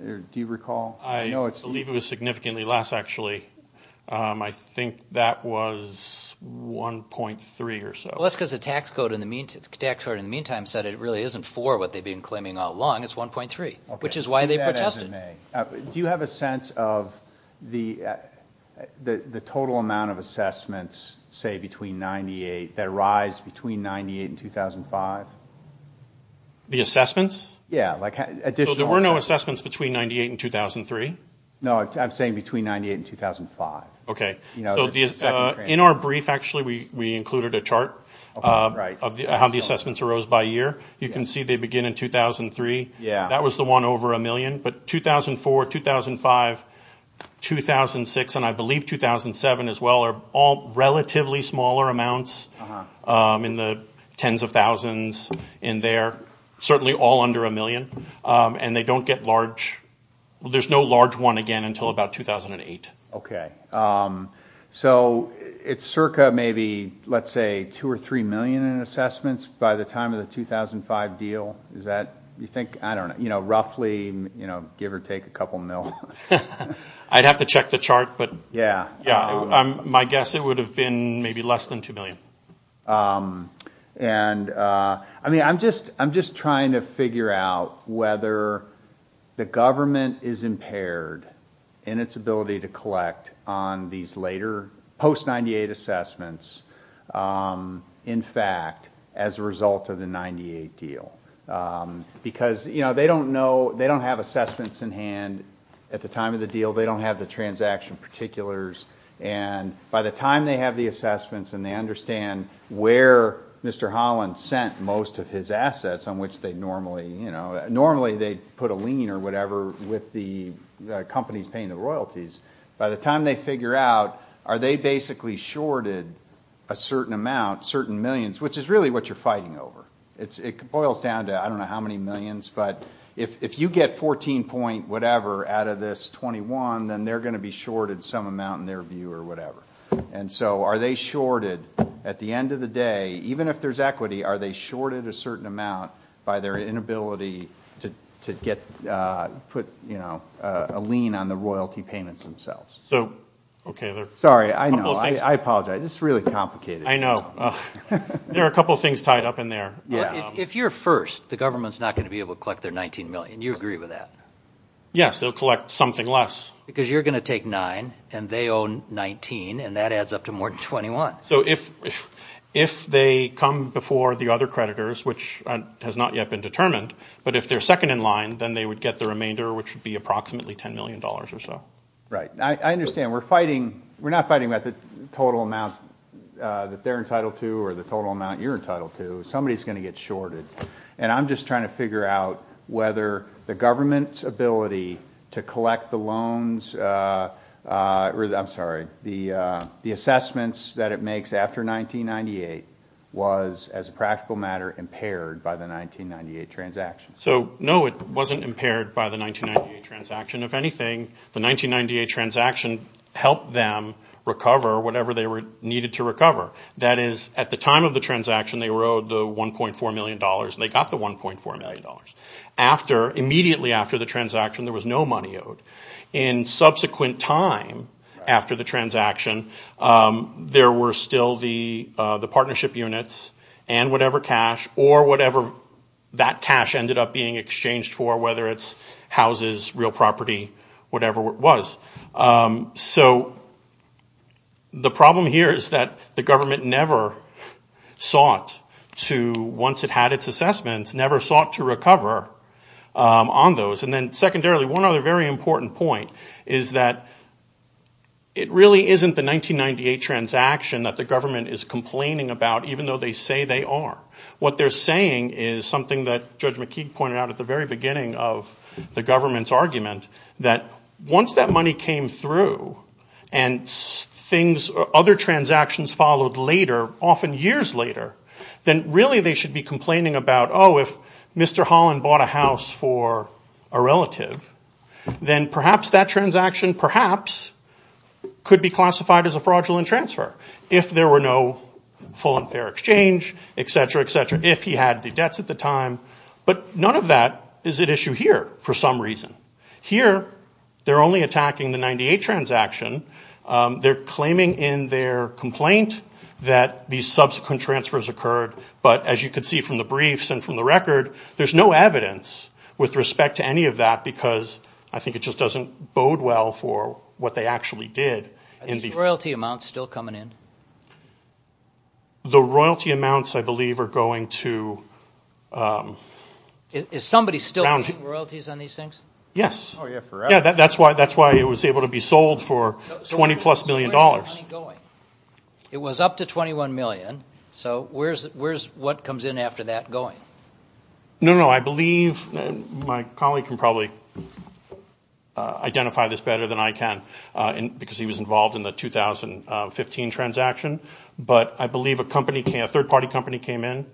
Do you recall? I believe it was significantly less, actually. I think that was 1.3 or so. Well, that's because the tax code in the meantime said it really isn't four, what they've been claiming all along. It's 1.3, which is why they protested. Do you have a sense of the total amount of assessments, say, between 98 that arise between 98 and 2005? The assessments? Yeah, like additional... So there were no assessments between 98 and 2003? No, I'm saying between 98 and 2005. Okay. So in our brief, actually, we included a chart of how the assessments arose by year. You can see they begin in 2003. That was the one over a million. But 2004, 2005, 2006, and I believe 2007, as well, are all relatively smaller amounts in the tens of thousands in there, certainly all under a million. And they don't get large... There's no large one again until about 2008. Okay. So it's circa maybe, let's say, two or three million in assessments by the time of the 2005 deal? You think? I don't know. Roughly, give or take a couple million. I'd have to check the chart, but... Yeah. Yeah. My guess, it would have been maybe less than two million. I mean, I'm just trying to figure out whether the government is impaired in its ability to collect on these later, post-98 assessments, in fact, as a result of the 98 deal. Because they don't know, they don't have assessments in hand at the time of the deal. They don't have the transaction particulars. And by the time they have the assessments and they understand where Mr. Holland sent most of his assets, on which they normally put a lien or whatever with the companies paying the royalties, by the time they figure out, are they basically shorted a certain amount, certain millions, which is really what you're fighting over. It boils down to, I don't know how many millions, but if you get 14 point whatever out of this 21, then they're going to be shorted some amount in their view or whatever. And so are they shorted, at the end of the day, even if there's equity, are they shorted a certain amount by their inability to get, put, you know, a lien on the royalty payments themselves? Sorry, I know, I apologize. This is really complicated. I know. There are a couple of things tied up in there. If you're first, the government's not going to be able to collect their 19 million. Do you agree with that? Yes, they'll collect something less. Because you're going to take nine and they own 19 and that adds up to more than 21. So if they come before the other creditors, which has not yet been determined, but if they're second in line, then they would get the remainder, which would be approximately $10 million or so. Right. I understand. We're fighting, we're not fighting about the total amount that they're entitled to or the total amount you're entitled to. Somebody's going to get shorted. And I'm just trying to figure out whether the government's ability to collect the loans, I'm sorry, the assessments that it makes after 1998 was, as a practical matter, impaired by the 1998 transaction. So, no, it wasn't impaired by the 1998 transaction. If anything, the 1998 transaction helped them recover whatever they needed to recover. That is, at the time of the transaction, they were owed the $1.4 million and they got the $1.4 million. Immediately after the transaction, there was no money owed. In subsequent time after the transaction, there were still the partnership units and whatever cash or whatever that cash ended up being exchanged for, whether it's houses, real property, whatever it was. So, the problem here is that the government never sought to, once it had its assessments, never sought to recover on those. And then, secondarily, one other very important point is that it really isn't the 1998 transaction that the government is complaining about, even though they say they are. What they're saying is something that Judge McKeague pointed out at the very beginning of the government's argument, that once that money came through and things, other transactions followed later, often years later, then really they should be complaining about, oh, if Mr. Holland bought a house for a relative, then perhaps that transaction, perhaps, could be classified as a fraudulent transfer if there were no full and fair exchange, etc., etc., if he had the debts at the time. But none of that is at issue here for some reason. Here, they're only attacking the 1998 transaction. They're claiming in their complaint that these subsequent transfers occurred, but as you can see from the briefs and from the record, there's no evidence with respect to any of that because I think it just doesn't bode well for what they actually did. Are these royalty amounts still coming in? The royalty amounts, I believe, are going to... Is somebody still paying royalties on these things? Yes. Oh, yeah, forever. Yeah, that's why it was able to be sold for $20-plus million. So where's the money going? It was up to $21 million. So where's what comes in after that going? No, no, I believe my colleague can probably identify this better than I can because he was involved in the 2015 transaction, but I believe a third-party company came in,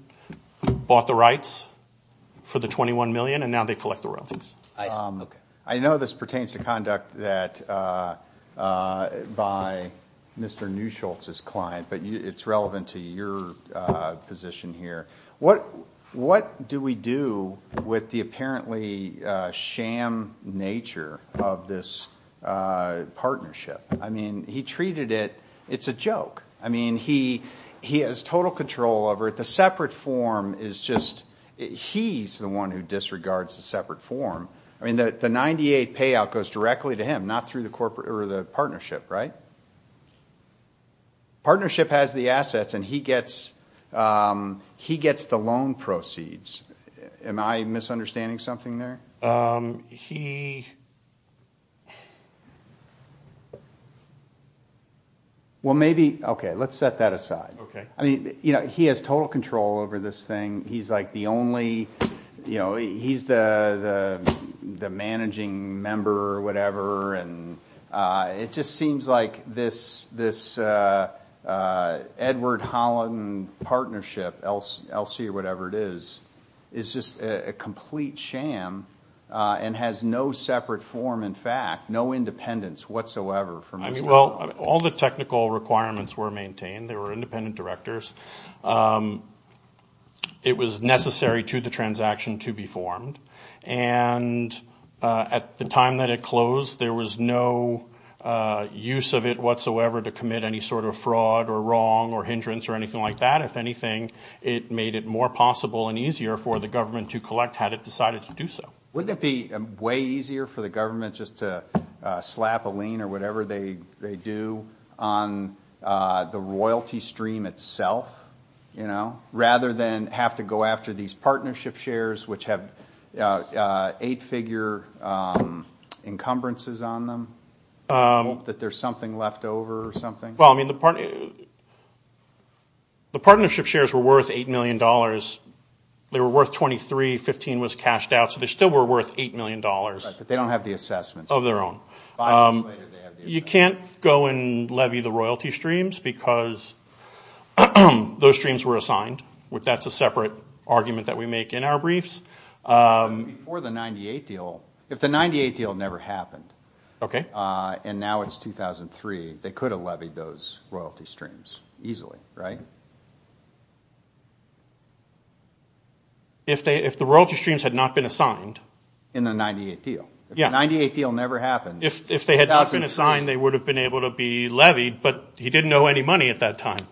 bought the rights for the $21 million, and now they collect the royalties. I know this pertains to conduct by Mr. Neuschultz's client, but it's relevant to your position here. What do we do with the apparently sham nature of this partnership? I mean, he treated it... It's a joke. I mean, he has total control over it. The separate form is just... He's the one who disregards the separate form. I mean, the 98 payout goes directly to him, not through the partnership, right? Partnership has the assets, and he gets the loan proceeds. Am I misunderstanding something there? He... Well, maybe... Okay, let's set that aside. I mean, he has total control over this thing. He's the managing member or whatever, and it just seems like this Edward-Holland partnership, LC or whatever it is, is just a complete sham and has no separate form in fact, no independence whatsoever from... Well, all the technical requirements were maintained. They were independent directors. It was necessary to the transaction to be formed, and at the time that it closed, there was no use of it whatsoever to commit any sort of fraud or wrong or hindrance or anything like that. If anything, it made it more possible and easier for the government to collect had it decided to do so. Wouldn't it be way easier for the government just to slap a lien or whatever they do on the royalty stream itself, you know, rather than have to go after these partnership shares which have eight-figure encumbrances on them, that there's something left over or something? Well, I mean, the partnership shares were worth $8 million. They were worth 23, 15 was cashed out, so they still were worth $8 million. Right, but they don't have the assessments. Of their own. You can't go and levy the royalty streams because those streams were assigned. That's a separate argument that we make in our briefs. Before the 98 deal, if the 98 deal never happened, and now it's 2003, they could have levied those royalty streams easily, right? If the royalty streams had not been assigned? In the 98 deal. If the 98 deal never happened... If they had not been assigned, they would have been able to be levied, but he didn't owe any money at that time.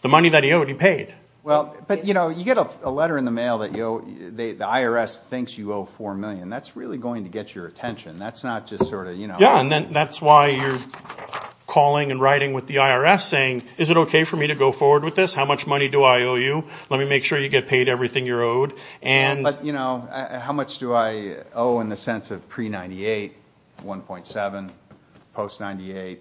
The money that he owed, he paid. Well, but, you know, you get a letter in the mail that the IRS thinks you owe $4 million. That's really going to get your attention. That's not just sort of, you know... Yeah, and that's why you're calling and writing with the IRS saying, is it okay for me to go forward with this? How much money do I owe you? Let me make sure you get paid everything you're owed. But, you know, how much do I owe in the sense of pre-98, 1.7, post-98?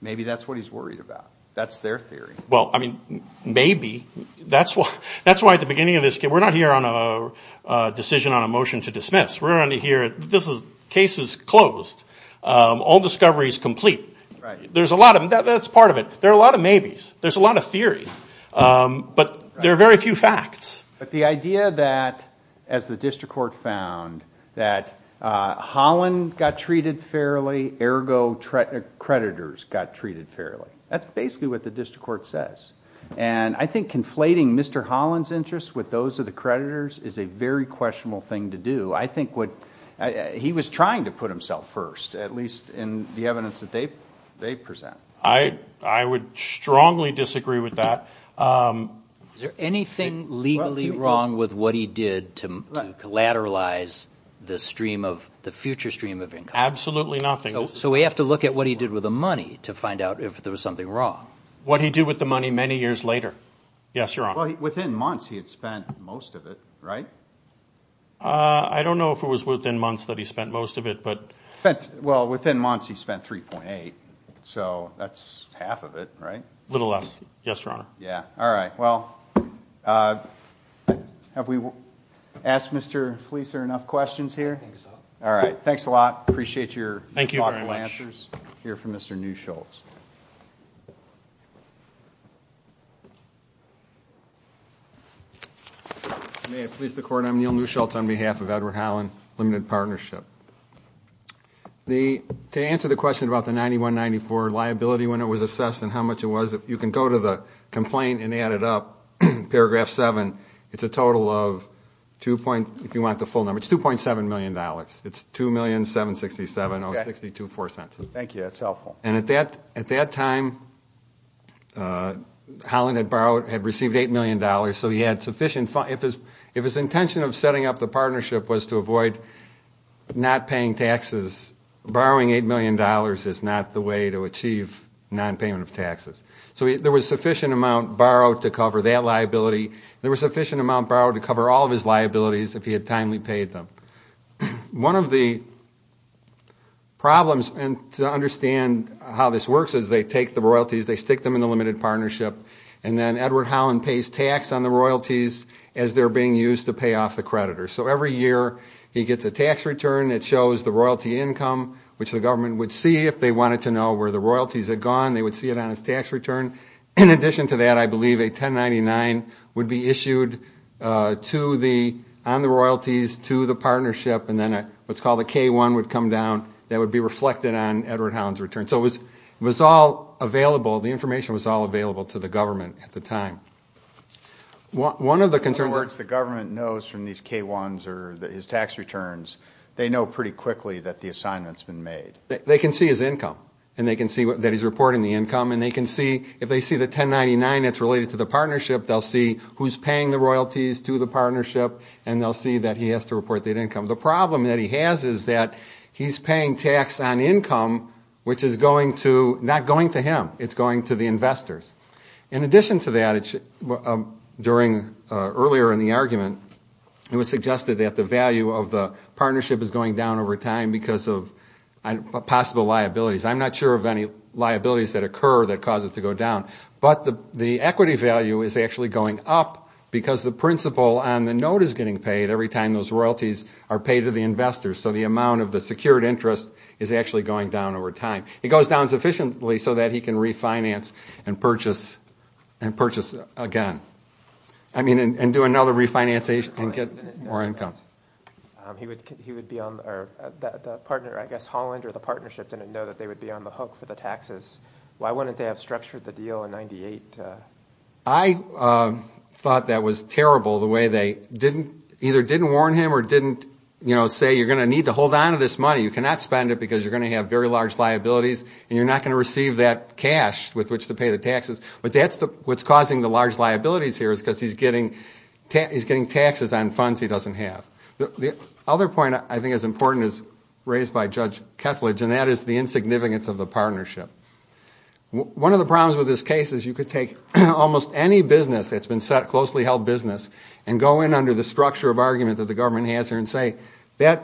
Maybe that's what he's worried about. That's their theory. Well, I mean, maybe. That's why at the beginning of this... We're not here on a decision on a motion to dismiss. We're here... This case is closed. Old discovery is complete. There's a lot of... That's part of it. There are a lot of maybes. There's a lot of theory. But there are very few facts. But the idea that, as the district court found, that Holland got treated fairly, ergo creditors got treated fairly. That's basically what the district court says. And I think conflating Mr. Holland's interests with those of the creditors is a very questionable thing to do. I think what... He was trying to put himself first, at least in the evidence that they present. I would strongly disagree with that. Is there anything legally wrong with what he did to collateralize the stream of... the future stream of income? Absolutely nothing. So we have to look at what he did with the money to find out if there was something wrong? What he did with the money many years later. Yes, Your Honor. Well, within months he had spent most of it, right? I don't know if it was within months that he spent most of it, but... Well, within months he spent 3.8. So that's half of it, right? A little less, yes, Your Honor. Yeah. All right. Well, have we asked Mr. Fleeser enough questions here? I think so. All right. Thanks a lot. Appreciate your thoughtful answers. Thank you very much. Here from Mr. Neu-Schultz. May it please the Court, I'm Neal Neu-Schultz on behalf of Edward Holland Limited Partnership. The... To answer the question about the 9194 liability when it was assessed and how much it was, if you can go to the complaint and add it up, paragraph 7, it's a total of 2.... if you want the full number, it's $2.7 million. It's $2,767,062.04. Okay. Thank you. That's helpful. And at that... at that time, Holland had borrowed... had received $8 million so he had sufficient... if his intention of setting up the partnership was to avoid not paying taxes, borrowing $8 million is not the way to achieve nonpayment of taxes. So there was sufficient amount borrowed to cover that liability. There was sufficient amount borrowed to cover all of his liabilities if he had timely paid them. One of the problems, and to understand how this works, is they take the royalties, they stick them in the limited partnership, and then Edward Holland pays tax on the royalties as they're being used to pay off the creditors. So every year, he gets a tax return that shows the royalty income, which the government would see if they wanted to know where the royalties had gone. They would see it on his tax return. In addition to that, I believe a 1099 would be issued to the... on the royalties to the partnership, and then what's called a K-1 would come down that would be reflected on Edward Holland's return. So it was... it was all available... the information was all available to the government at the time. One of the concerns... In other words, the government knows from these K-1s or his tax returns, they know pretty quickly that the assignment's been made. They can see his income, and they can see that he's reporting the income, and they can see... if they see the 1099 that's related to the partnership, they'll see who's paying the royalties to the partnership, and they'll see that he has to report that income. The problem that he has is that he's paying tax on income, which is going to... not going to him. It's going to the investors. In addition to that, during... earlier in the argument, it was suggested that the value of the partnership is going down over time because of possible liabilities. I'm not sure of any liabilities that occur that cause it to go down. But the equity value is actually going up because the principal on the note is getting paid every time those royalties are paid to the investors. So the amount of the secured interest is actually going down over time. It goes down sufficiently so that he can refinance and purchase... and purchase again. I mean, and do another refinance and get more income. He would... he would be on... or the partner, I guess, Holland or the partnership didn't know that they would be on the hook for the taxes. Why wouldn't they have structured the deal in 98? I thought that was terrible, the way they didn't... either didn't warn him or didn't, you know, say, you're going to need to hold on to this money. You cannot spend it because you're going to have very large liabilities and you're not going to receive that cash with which to pay the taxes. But that's the... what's causing the large liabilities here is because he's getting... he's getting taxes on funds he doesn't have. The other point I think is important is raised by Judge Kethledge and that is the insignificance of the partnership. One of the problems with this case is you could take almost any business that's been set... closely held business and go in under the structure of argument that the government has and say, that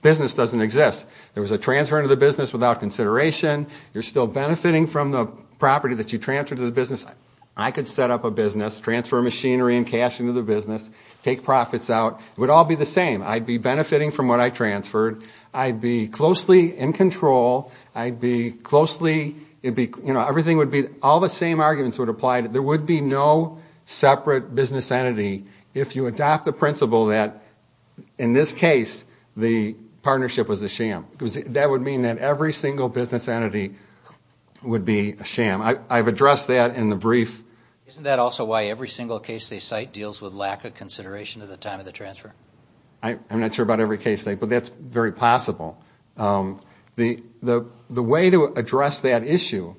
business doesn't exist. There was a transfer into the business without consideration. You're still benefiting from the property that you transferred to the business. I could set up a business, transfer machinery and cash into the business, take profits out. It would all be the same. I'd be benefiting from what I transferred. I'd be closely in control. I'd be closely... it'd be... you know, everything would be... all the same arguments would apply. There would be no separate business entity if you adopt the principle that, in this case, the partnership was a sham because that would mean that every single business entity would be a sham. I've addressed that in the brief. Isn't that also why every single case they cite deals with lack of consideration of the time of the transfer? I'm not sure about every case they... but that's very possible. The... the... the way to address that issue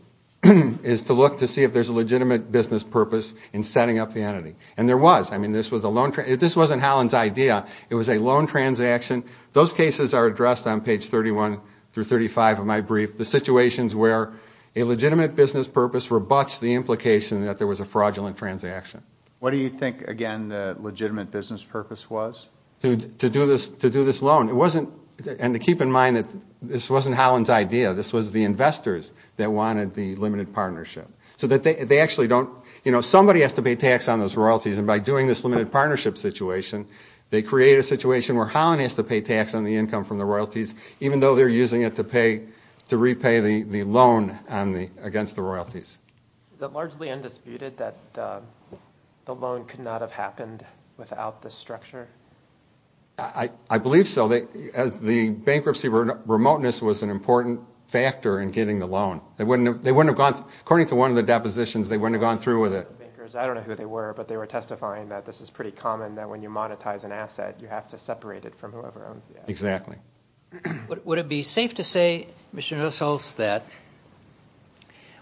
is to look to see if there's a legitimate business purpose in setting up the entity and there was. I mean, this was a loan... this wasn't Holland's idea. It was a loan transaction. Those cases are addressed on page 31 through 35 of my brief. The situations where a legitimate business purpose rebuts the implication that there was a fraudulent transaction. What do you think, again, the legitimate business purpose was? To... to do this... to do this loan. It wasn't... and to keep in mind that this wasn't Holland's idea. This was the investors that wanted the limited partnership. So that they... they actually don't... you know, somebody has to pay tax on those royalties and by doing this limited partnership situation, they create a situation where Holland has to pay tax on the income from the royalties even though they're using it to pay... to repay the loan on the... against the royalties. Is it largely undisputed that the loan could not have happened without this structure? I... I believe so. The bankruptcy remoteness was an important factor in getting the loan. They wouldn't have... they wouldn't have gone... according to one of the depositions, they wouldn't have gone through with it. I don't know who they were, but they were testifying that this is pretty common that when you monetize an asset, you have to separate it from whoever owns the asset. Exactly. Would it be safe to say, Mr. Nussholz, that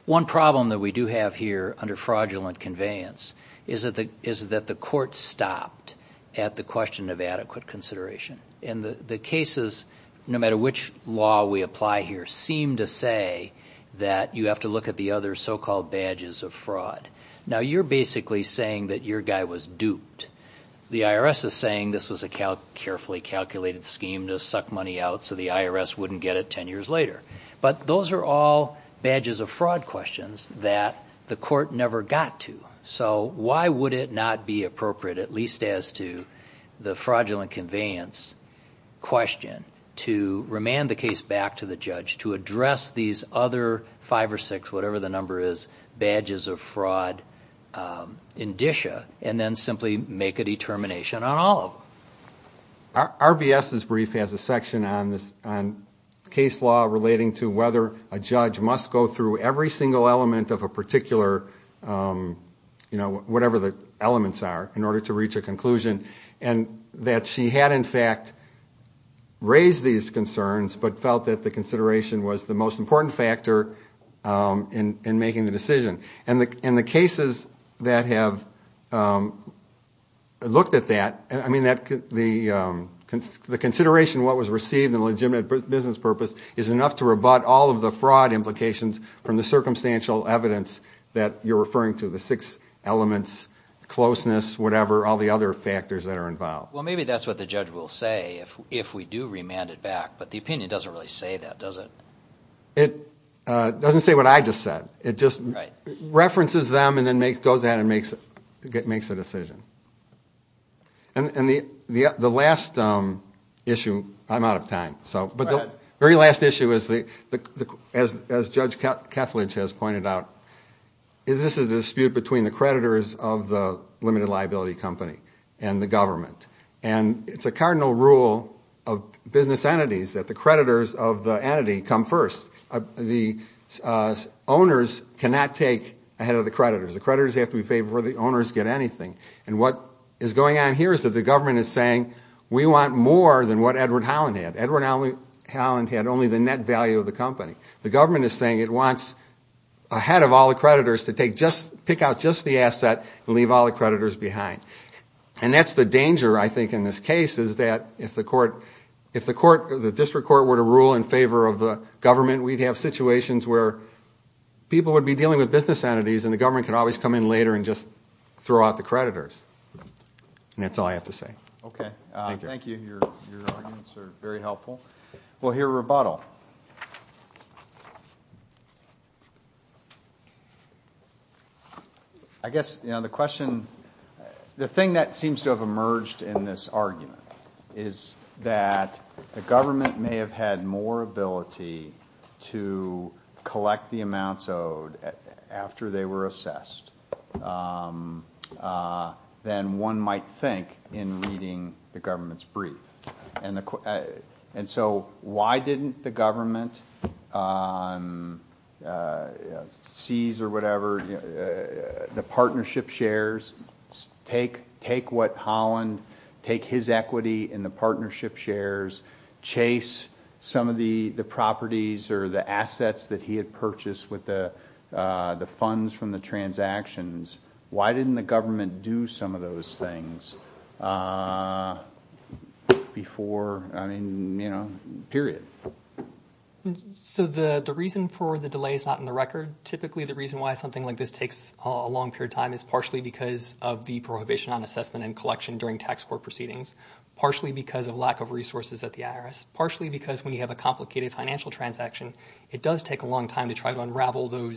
one problem that we do have here under fraudulent conveyance is that the... is that the court stopped at the question of adequate consideration. And the... the cases, no matter which law we apply here, seem to say that you have to look at the other so-called badges of fraud. Now, you're basically saying that your guy was duped. The IRS is saying this was a carefully calculated scheme to suck money out so the IRS wouldn't get it ten years later. But those are all badges of fraud questions that the court never got to. So, why would it not be appropriate, at least as to the fraudulent conveyance question to remand the case back to the judge to address these other five or six, whatever the number is, badges of fraud indicia and then simply make a determination on all of them? RBS's brief has a section on this... on case law relating to whether a judge must go through every single element of a particular, you know, whatever the elements are in order to reach a conclusion and that she had in fact raised these concerns but felt that the consideration was the most important factor in making the decision. And the cases that have looked at that, I mean, the consideration of what was received in a legitimate business purpose is enough to rebut all of the fraud implications from the circumstantial evidence that you're referring to, the six elements, closeness, whatever, all the other factors that are involved. Well, maybe that's what the judge will say if we do remand it back but the opinion doesn't really say that, does it? It doesn't say what I just said. It just references them and then goes out and makes a decision. And the last issue, I'm out of time, but the very last issue as Judge Kethledge has said is the liability company and the government. And it's a cardinal rule of business entities that the creditors of the entity come first. The owners cannot take ahead of the creditors. The creditors have to be paid before the owners get anything. And what is going on here is that the government is saying we want more than what the creditors are paying. And that's the danger, I think, in this case, is that if the district court were to rule in favor of the government, we'd have situations where people would be dealing with business entities and the government could always come in later and just throw out the creditors. And that's all I have to say. Thank you. Your arguments The thing that seems to have emerged in this argument is that the government may have had more ability to collect the amounts owed after they were assessed might think in reading the government's brief. And so why didn't the government seize or whatever the partnership shares take away from the government? Take what Holland, take his equity in the partnership shares, chase some of the properties or the assets that he had purchased with the funds from the transactions. Why didn't the government do some of those things before, I mean, you know, period. So the reason for the delay is not in the record. Typically the reason why something like this takes a long period of time is partially because of the prohibition on assessment and collection during tax court proceedings, partially because of lack of resources at the IRS, partially because when you have a complicated financial transaction it does take a long time to try to collect the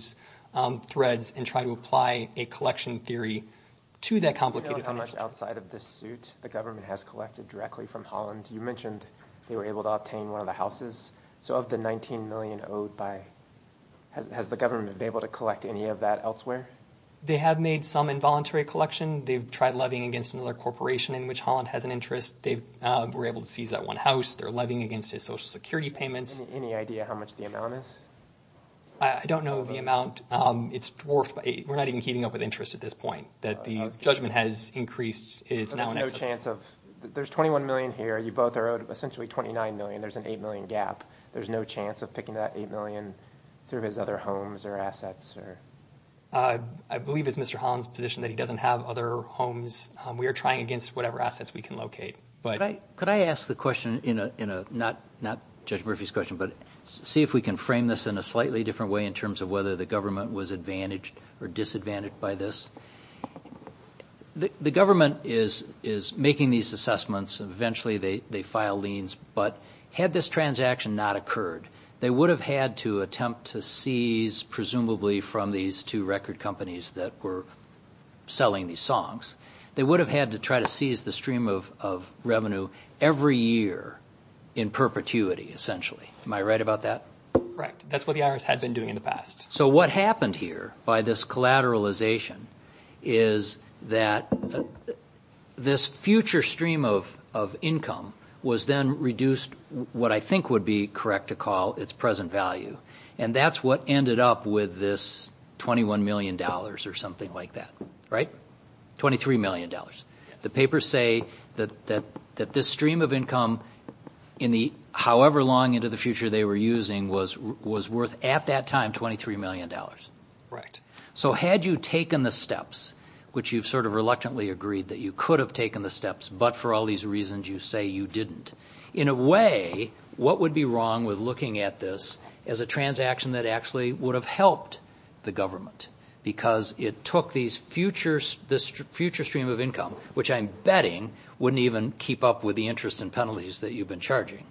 assets. So of the 19 million owed by, has the government been able to collect any of that elsewhere? They have made some involuntary collection. They've tried levying against another corporation in which Holland has an interest. They were able to seize that one house. They're levying against his social security payments. Any idea how much the amount is? I don't know the amount. It's dwarfed. We're not even keeping up with interest at this point. That the judgment has increased. There's 21 million here. You both are owed essentially 29 million. There's an 8 million gap. There's no chance of picking that 8 million through his other homes or assets. I believe it's Mr. Holland's position that he doesn't have other homes. We're trying against whatever assets we can locate. Could I ask the question, not Judge Murphy's question, but see if we can frame this in a slightly different way in terms of whether the government was advantaged or disadvantaged by this? The government is making these assessments. Eventually they file liens. Had this transaction not occurred, they would have had to attempt to seize presumably from these two record companies that were selling these songs, they would have had to try to seize the stream of revenue every year in perpetuity, essentially. Am I right about that? Correct. That's what the IRS had been doing in the past. What happened here by this collateralization is that this future stream of income was then reduced what I think would be correct to call its present value. That's what ended up with this $21 million or something like that, right? $23 million. The papers say that this stream of income in the however long into the future they were using was worth at that time $23 million. Right. So had you taken the steps, which you've sort of reluctantly agreed that you could have taken the steps but for all these reasons you say you didn't, in a way what would be wrong with looking at this as a transaction that actually would have helped the government because it took these future stream of income, which I'm betting wouldn't even keep up with the interest and penalties that you've been charging,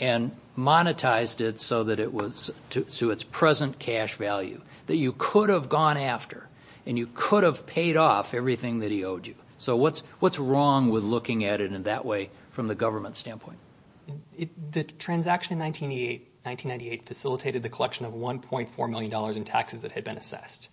and monetized it so that it was to its present cash value that you could have gone after and you could have paid off everything that he owed you. So what's wrong with looking at it in that way from the government standpoint? The transaction in 1998 facilitated the collection of $1.4 million in taxes that had been assessed.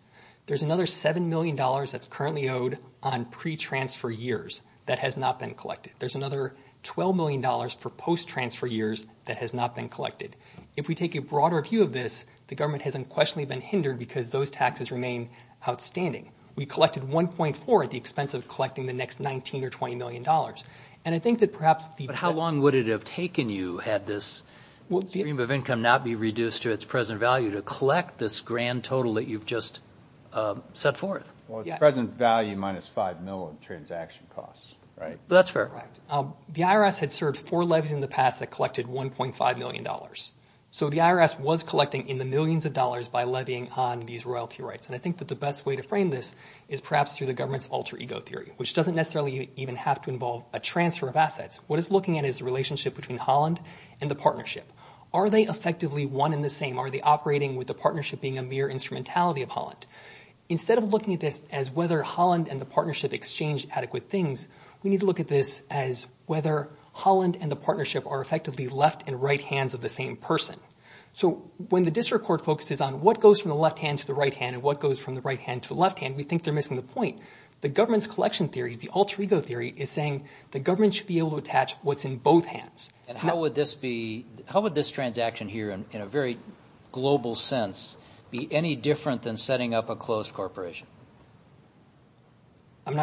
There's another $7 million that's currently owed on pre-transfer years that has not been collected. There's another $12 million for post-transfer years that has not been collected. If we take a broader view of this, the government has unquestionably been hindered because those taxes remain outstanding. We collected $1.4 million at the expense of collecting the next $19 or $20 million. And I think that perhaps... But how long would it have taken you had this stream of income not be reduced to its present value to collect this grand total that you've just set forth? Well, its present value minus $5 million in transaction costs, right? That's fair. The IRS had served four levies in the past that collected $1.5 million. So the IRS was collecting in the millions of dollars by levying on these royalty rights. And I think that the best way to frame this is perhaps through the government's alter ego theory, which doesn't necessarily even have to involve a transfer of assets. What it's looking at is the relationship between Holland and the partnership. Are they effectively one and the same? Are they operating with the partnership being a mere instrumentality of Holland? Instead of looking at this as whether Holland and the partnership exchanged adequate things, we need to look at this as whether Holland and the partnership are effectively left and right hands of the same person. So when the district court focuses on what goes from the left hand to the right hand and what goes from the right hand to the left hand, we think they're missing the point. The government's collection theory, the alter ego theory, is saying the government should be able to attach what's in both hands. And how would this transaction here in a very global sense be any different than setting up a corporation? You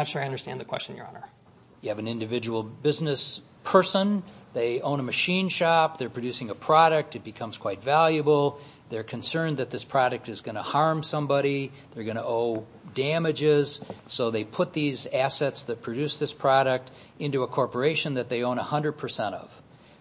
have an individual business person. They own a machine shop. They're producing a product. It becomes quite valuable. They're concerned that this product is going to harm somebody. They're going to owe damages. So they put these assets that produce this product into a corporation that they own 100 percent of.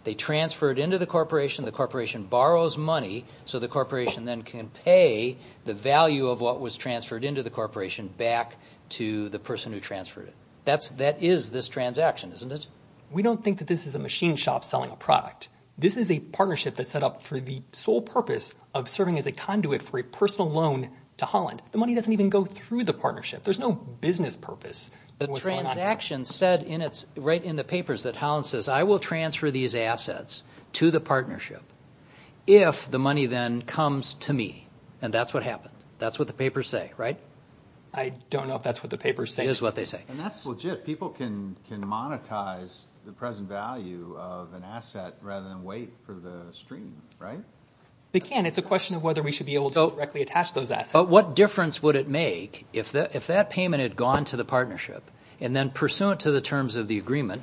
They transfer it into the corporation. The corporation borrows money so the corporation then can pay the value of what was transferred into the corporation back to the person who transferred it. That is this transaction, isn't it? We don't think that this is a machine shop selling a product. This is a partnership that's set up for the sole purpose of serving as a conduit for a personal loan to Holland. The money doesn't even go through the partnership. There's no business purpose. The transaction said right in the papers that Holland says, I will transfer these assets to the partnership if the money then comes to me. And that's what happened. That's what the papers say, right? I don't know if that's what the papers say. It is what they say. And that's legit. People can monetize the present value of an asset rather than wait for the stream, right? They can. It's a question of whether we should be able to directly attach those assets. But what difference would it make if that payment had gone to the partnership and then pursuant to the terms of the agreement,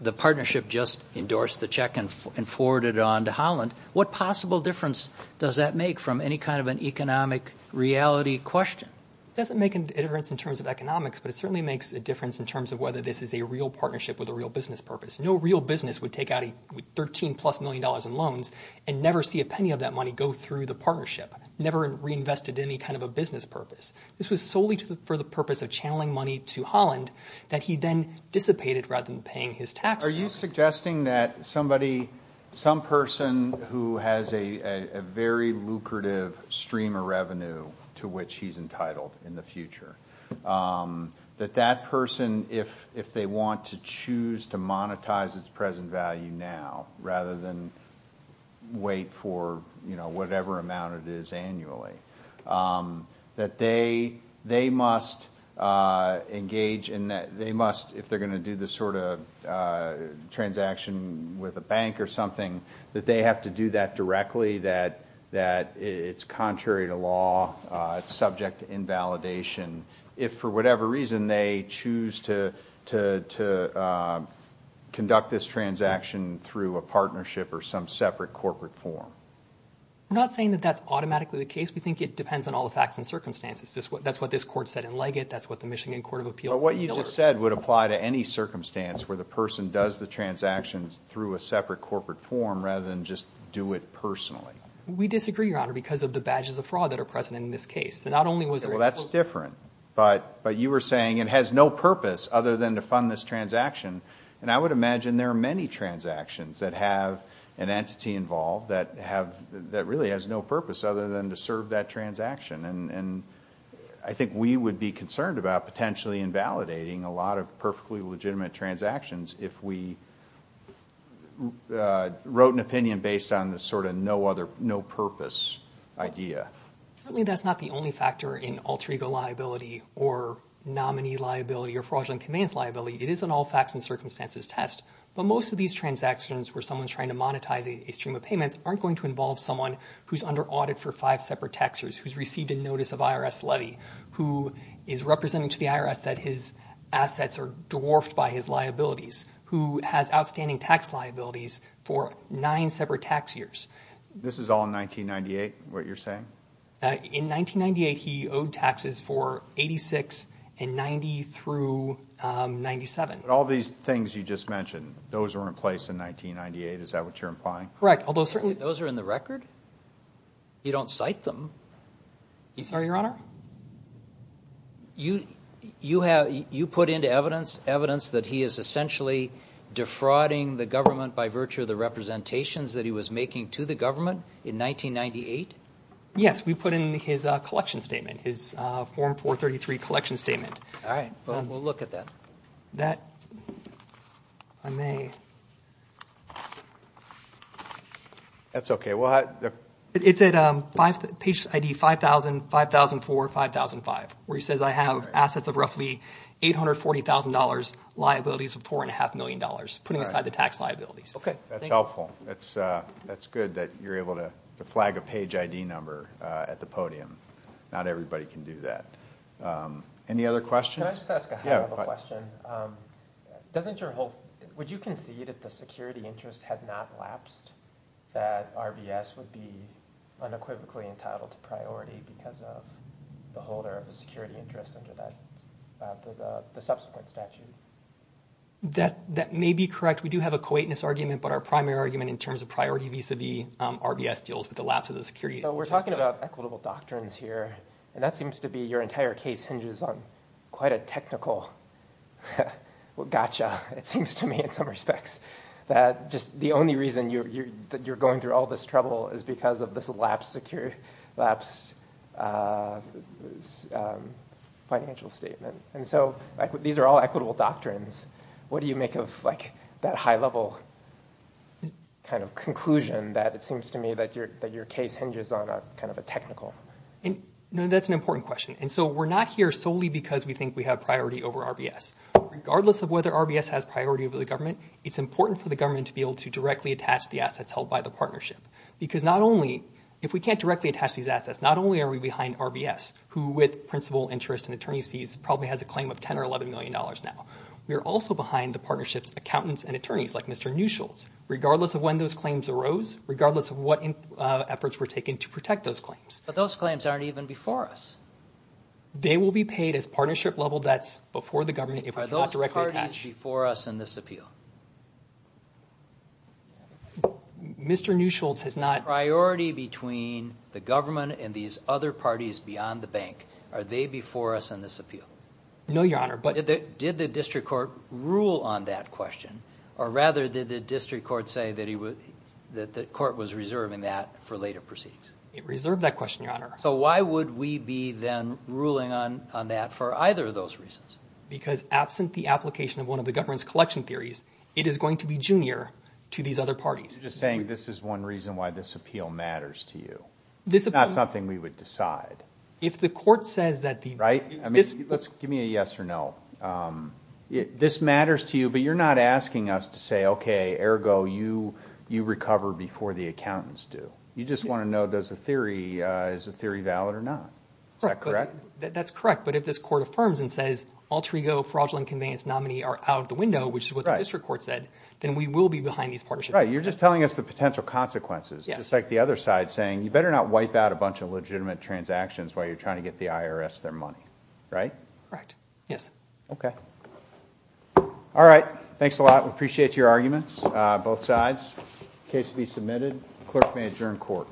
the partnership just endorsed the check and forwarded it on to Holland, what possible difference does that make from any kind of an economic reality question? It doesn't make a difference in terms of economics, but it certainly makes a difference in terms of whether this is a real partnership with a real business purpose. No real business would take out $13-plus million in loans and never see a penny of that money go through the partnership, never reinvested in any kind of a business purpose. This was solely for the purpose of channeling money to Holland that he then dissipated rather than paying his taxes. Are you suggesting that somebody, some person who has a very lucrative stream of revenue to which he is entitled in the future, that that person if they want to choose to monetize its present value now rather than wait for whatever amount it is annually, that they must engage in, they must, if they are going to do this sort of transaction with a the law, it should be subject to the law? I think that that might be a possibility. So you're suggesting that maybe that's a possibility. I think that's subject to invalidation. If for whatever reason they choose to conduct this transaction through a partnership or some separate corporate form. I'm not saying that that's automatically the case. We think it depends on all the facts and circumstances. That's what this court said in Leggett, that's what the Michigan Court of Appeals said in Miller. But what you just said would apply to any transaction. That's different. But you were saying it has no purpose other than to fund this transaction. I would imagine there are many transactions that have an entity involved that really has no purpose other than to serve that transaction. I think we would be concerned about potentially invalidating a lot of perfectly legitimate transactions if we wrote an opinion based on this sort of no purpose idea. Certainly that's not the only factor in alter ego liability or nominee liability or fraudulent conveyance liability. It is an all facts and But most of these transactions where someone's trying to monetize a stream of payments aren't going to involve someone who's under audit for five separate tax liabilities for nine separate tax years. This is all in 1998 what you're saying? In 1998 he owed taxes for 86 and 90 through 97. All these things you just mentioned those were in place in 1998 is that what you're implying? Correct. Although certainly those are in the record. You don't cite them. I'm sorry your honor? You put into evidence evidence that he is essentially defrauding the government by virtue of the representations that he was making to the government in 1998? Yes. We put in his collection statement his form 433 collection statement. All right. We'll look at that. That I may That's okay. It's at page ID 5000 5004 5005 where he says I have assets of roughly $840,000 liabilities of $4.5 million putting aside the tax liabilities. That's helpful. That's good that you're able to flag a page ID number at the podium. Not everybody can do that. Any other questions? Can I just ask a question? Doesn't your whole would you concede that the security interest had not lapsed that RBS would be unequivocally entitled to priority because of the holder of the security interest under the subsequent statute? That may be correct. We do have a coitness argument but our primary argument in terms of priority deals with the lapse of the security interest. We're talking about equitable doctrines here. Your entire case hinges on quite a technical gotcha in some respects. The only reason you're going through all this trouble is because of this lapsed financial statement. These are all equitable doctrines. What do you make of that high level conclusion that it seems to me your case hinges on a technical. That's an important question. We're not here because we think we have priority over the balance sheet. If we can't directly attach these assets, not only are we behind RBS who has a claim of $10 or $11 million now, we're also behind the partnerships accountants and attorneys. Those claims aren't even before us. They will be paid as partnership level debts before the government. Are those parties before us in this appeal? Mr. Newsholtz has not... The priority between the government and these other parties beyond the bank, are they before us in this appeal? No, Your Honor. Did the district court rule on that for either of those reasons? Because absent the application of one of the government's collection theories, it is going to be junior to these other parties. You're just saying this is one reason why this appeal matters to you. It's not something we would decide. If the court says... Right? Give me a yes or no. This matters to you, but you're not asking us to say, okay, ergo, you recover before the accountants do. You just want to know, is the theory valid or not? Is that correct? That's correct, but if this court affirms and says all ergo, fraudulent nominee are out of the window, then we will be behind these parties. You're just telling us the potential consequences. You better not wipe out a bunch of legitimate transactions while you're trying to get the IRS their money. Okay? All right. Thanks a lot. We appreciate your arguments, both sides. Case to be submitted. Clerk may adjourn court.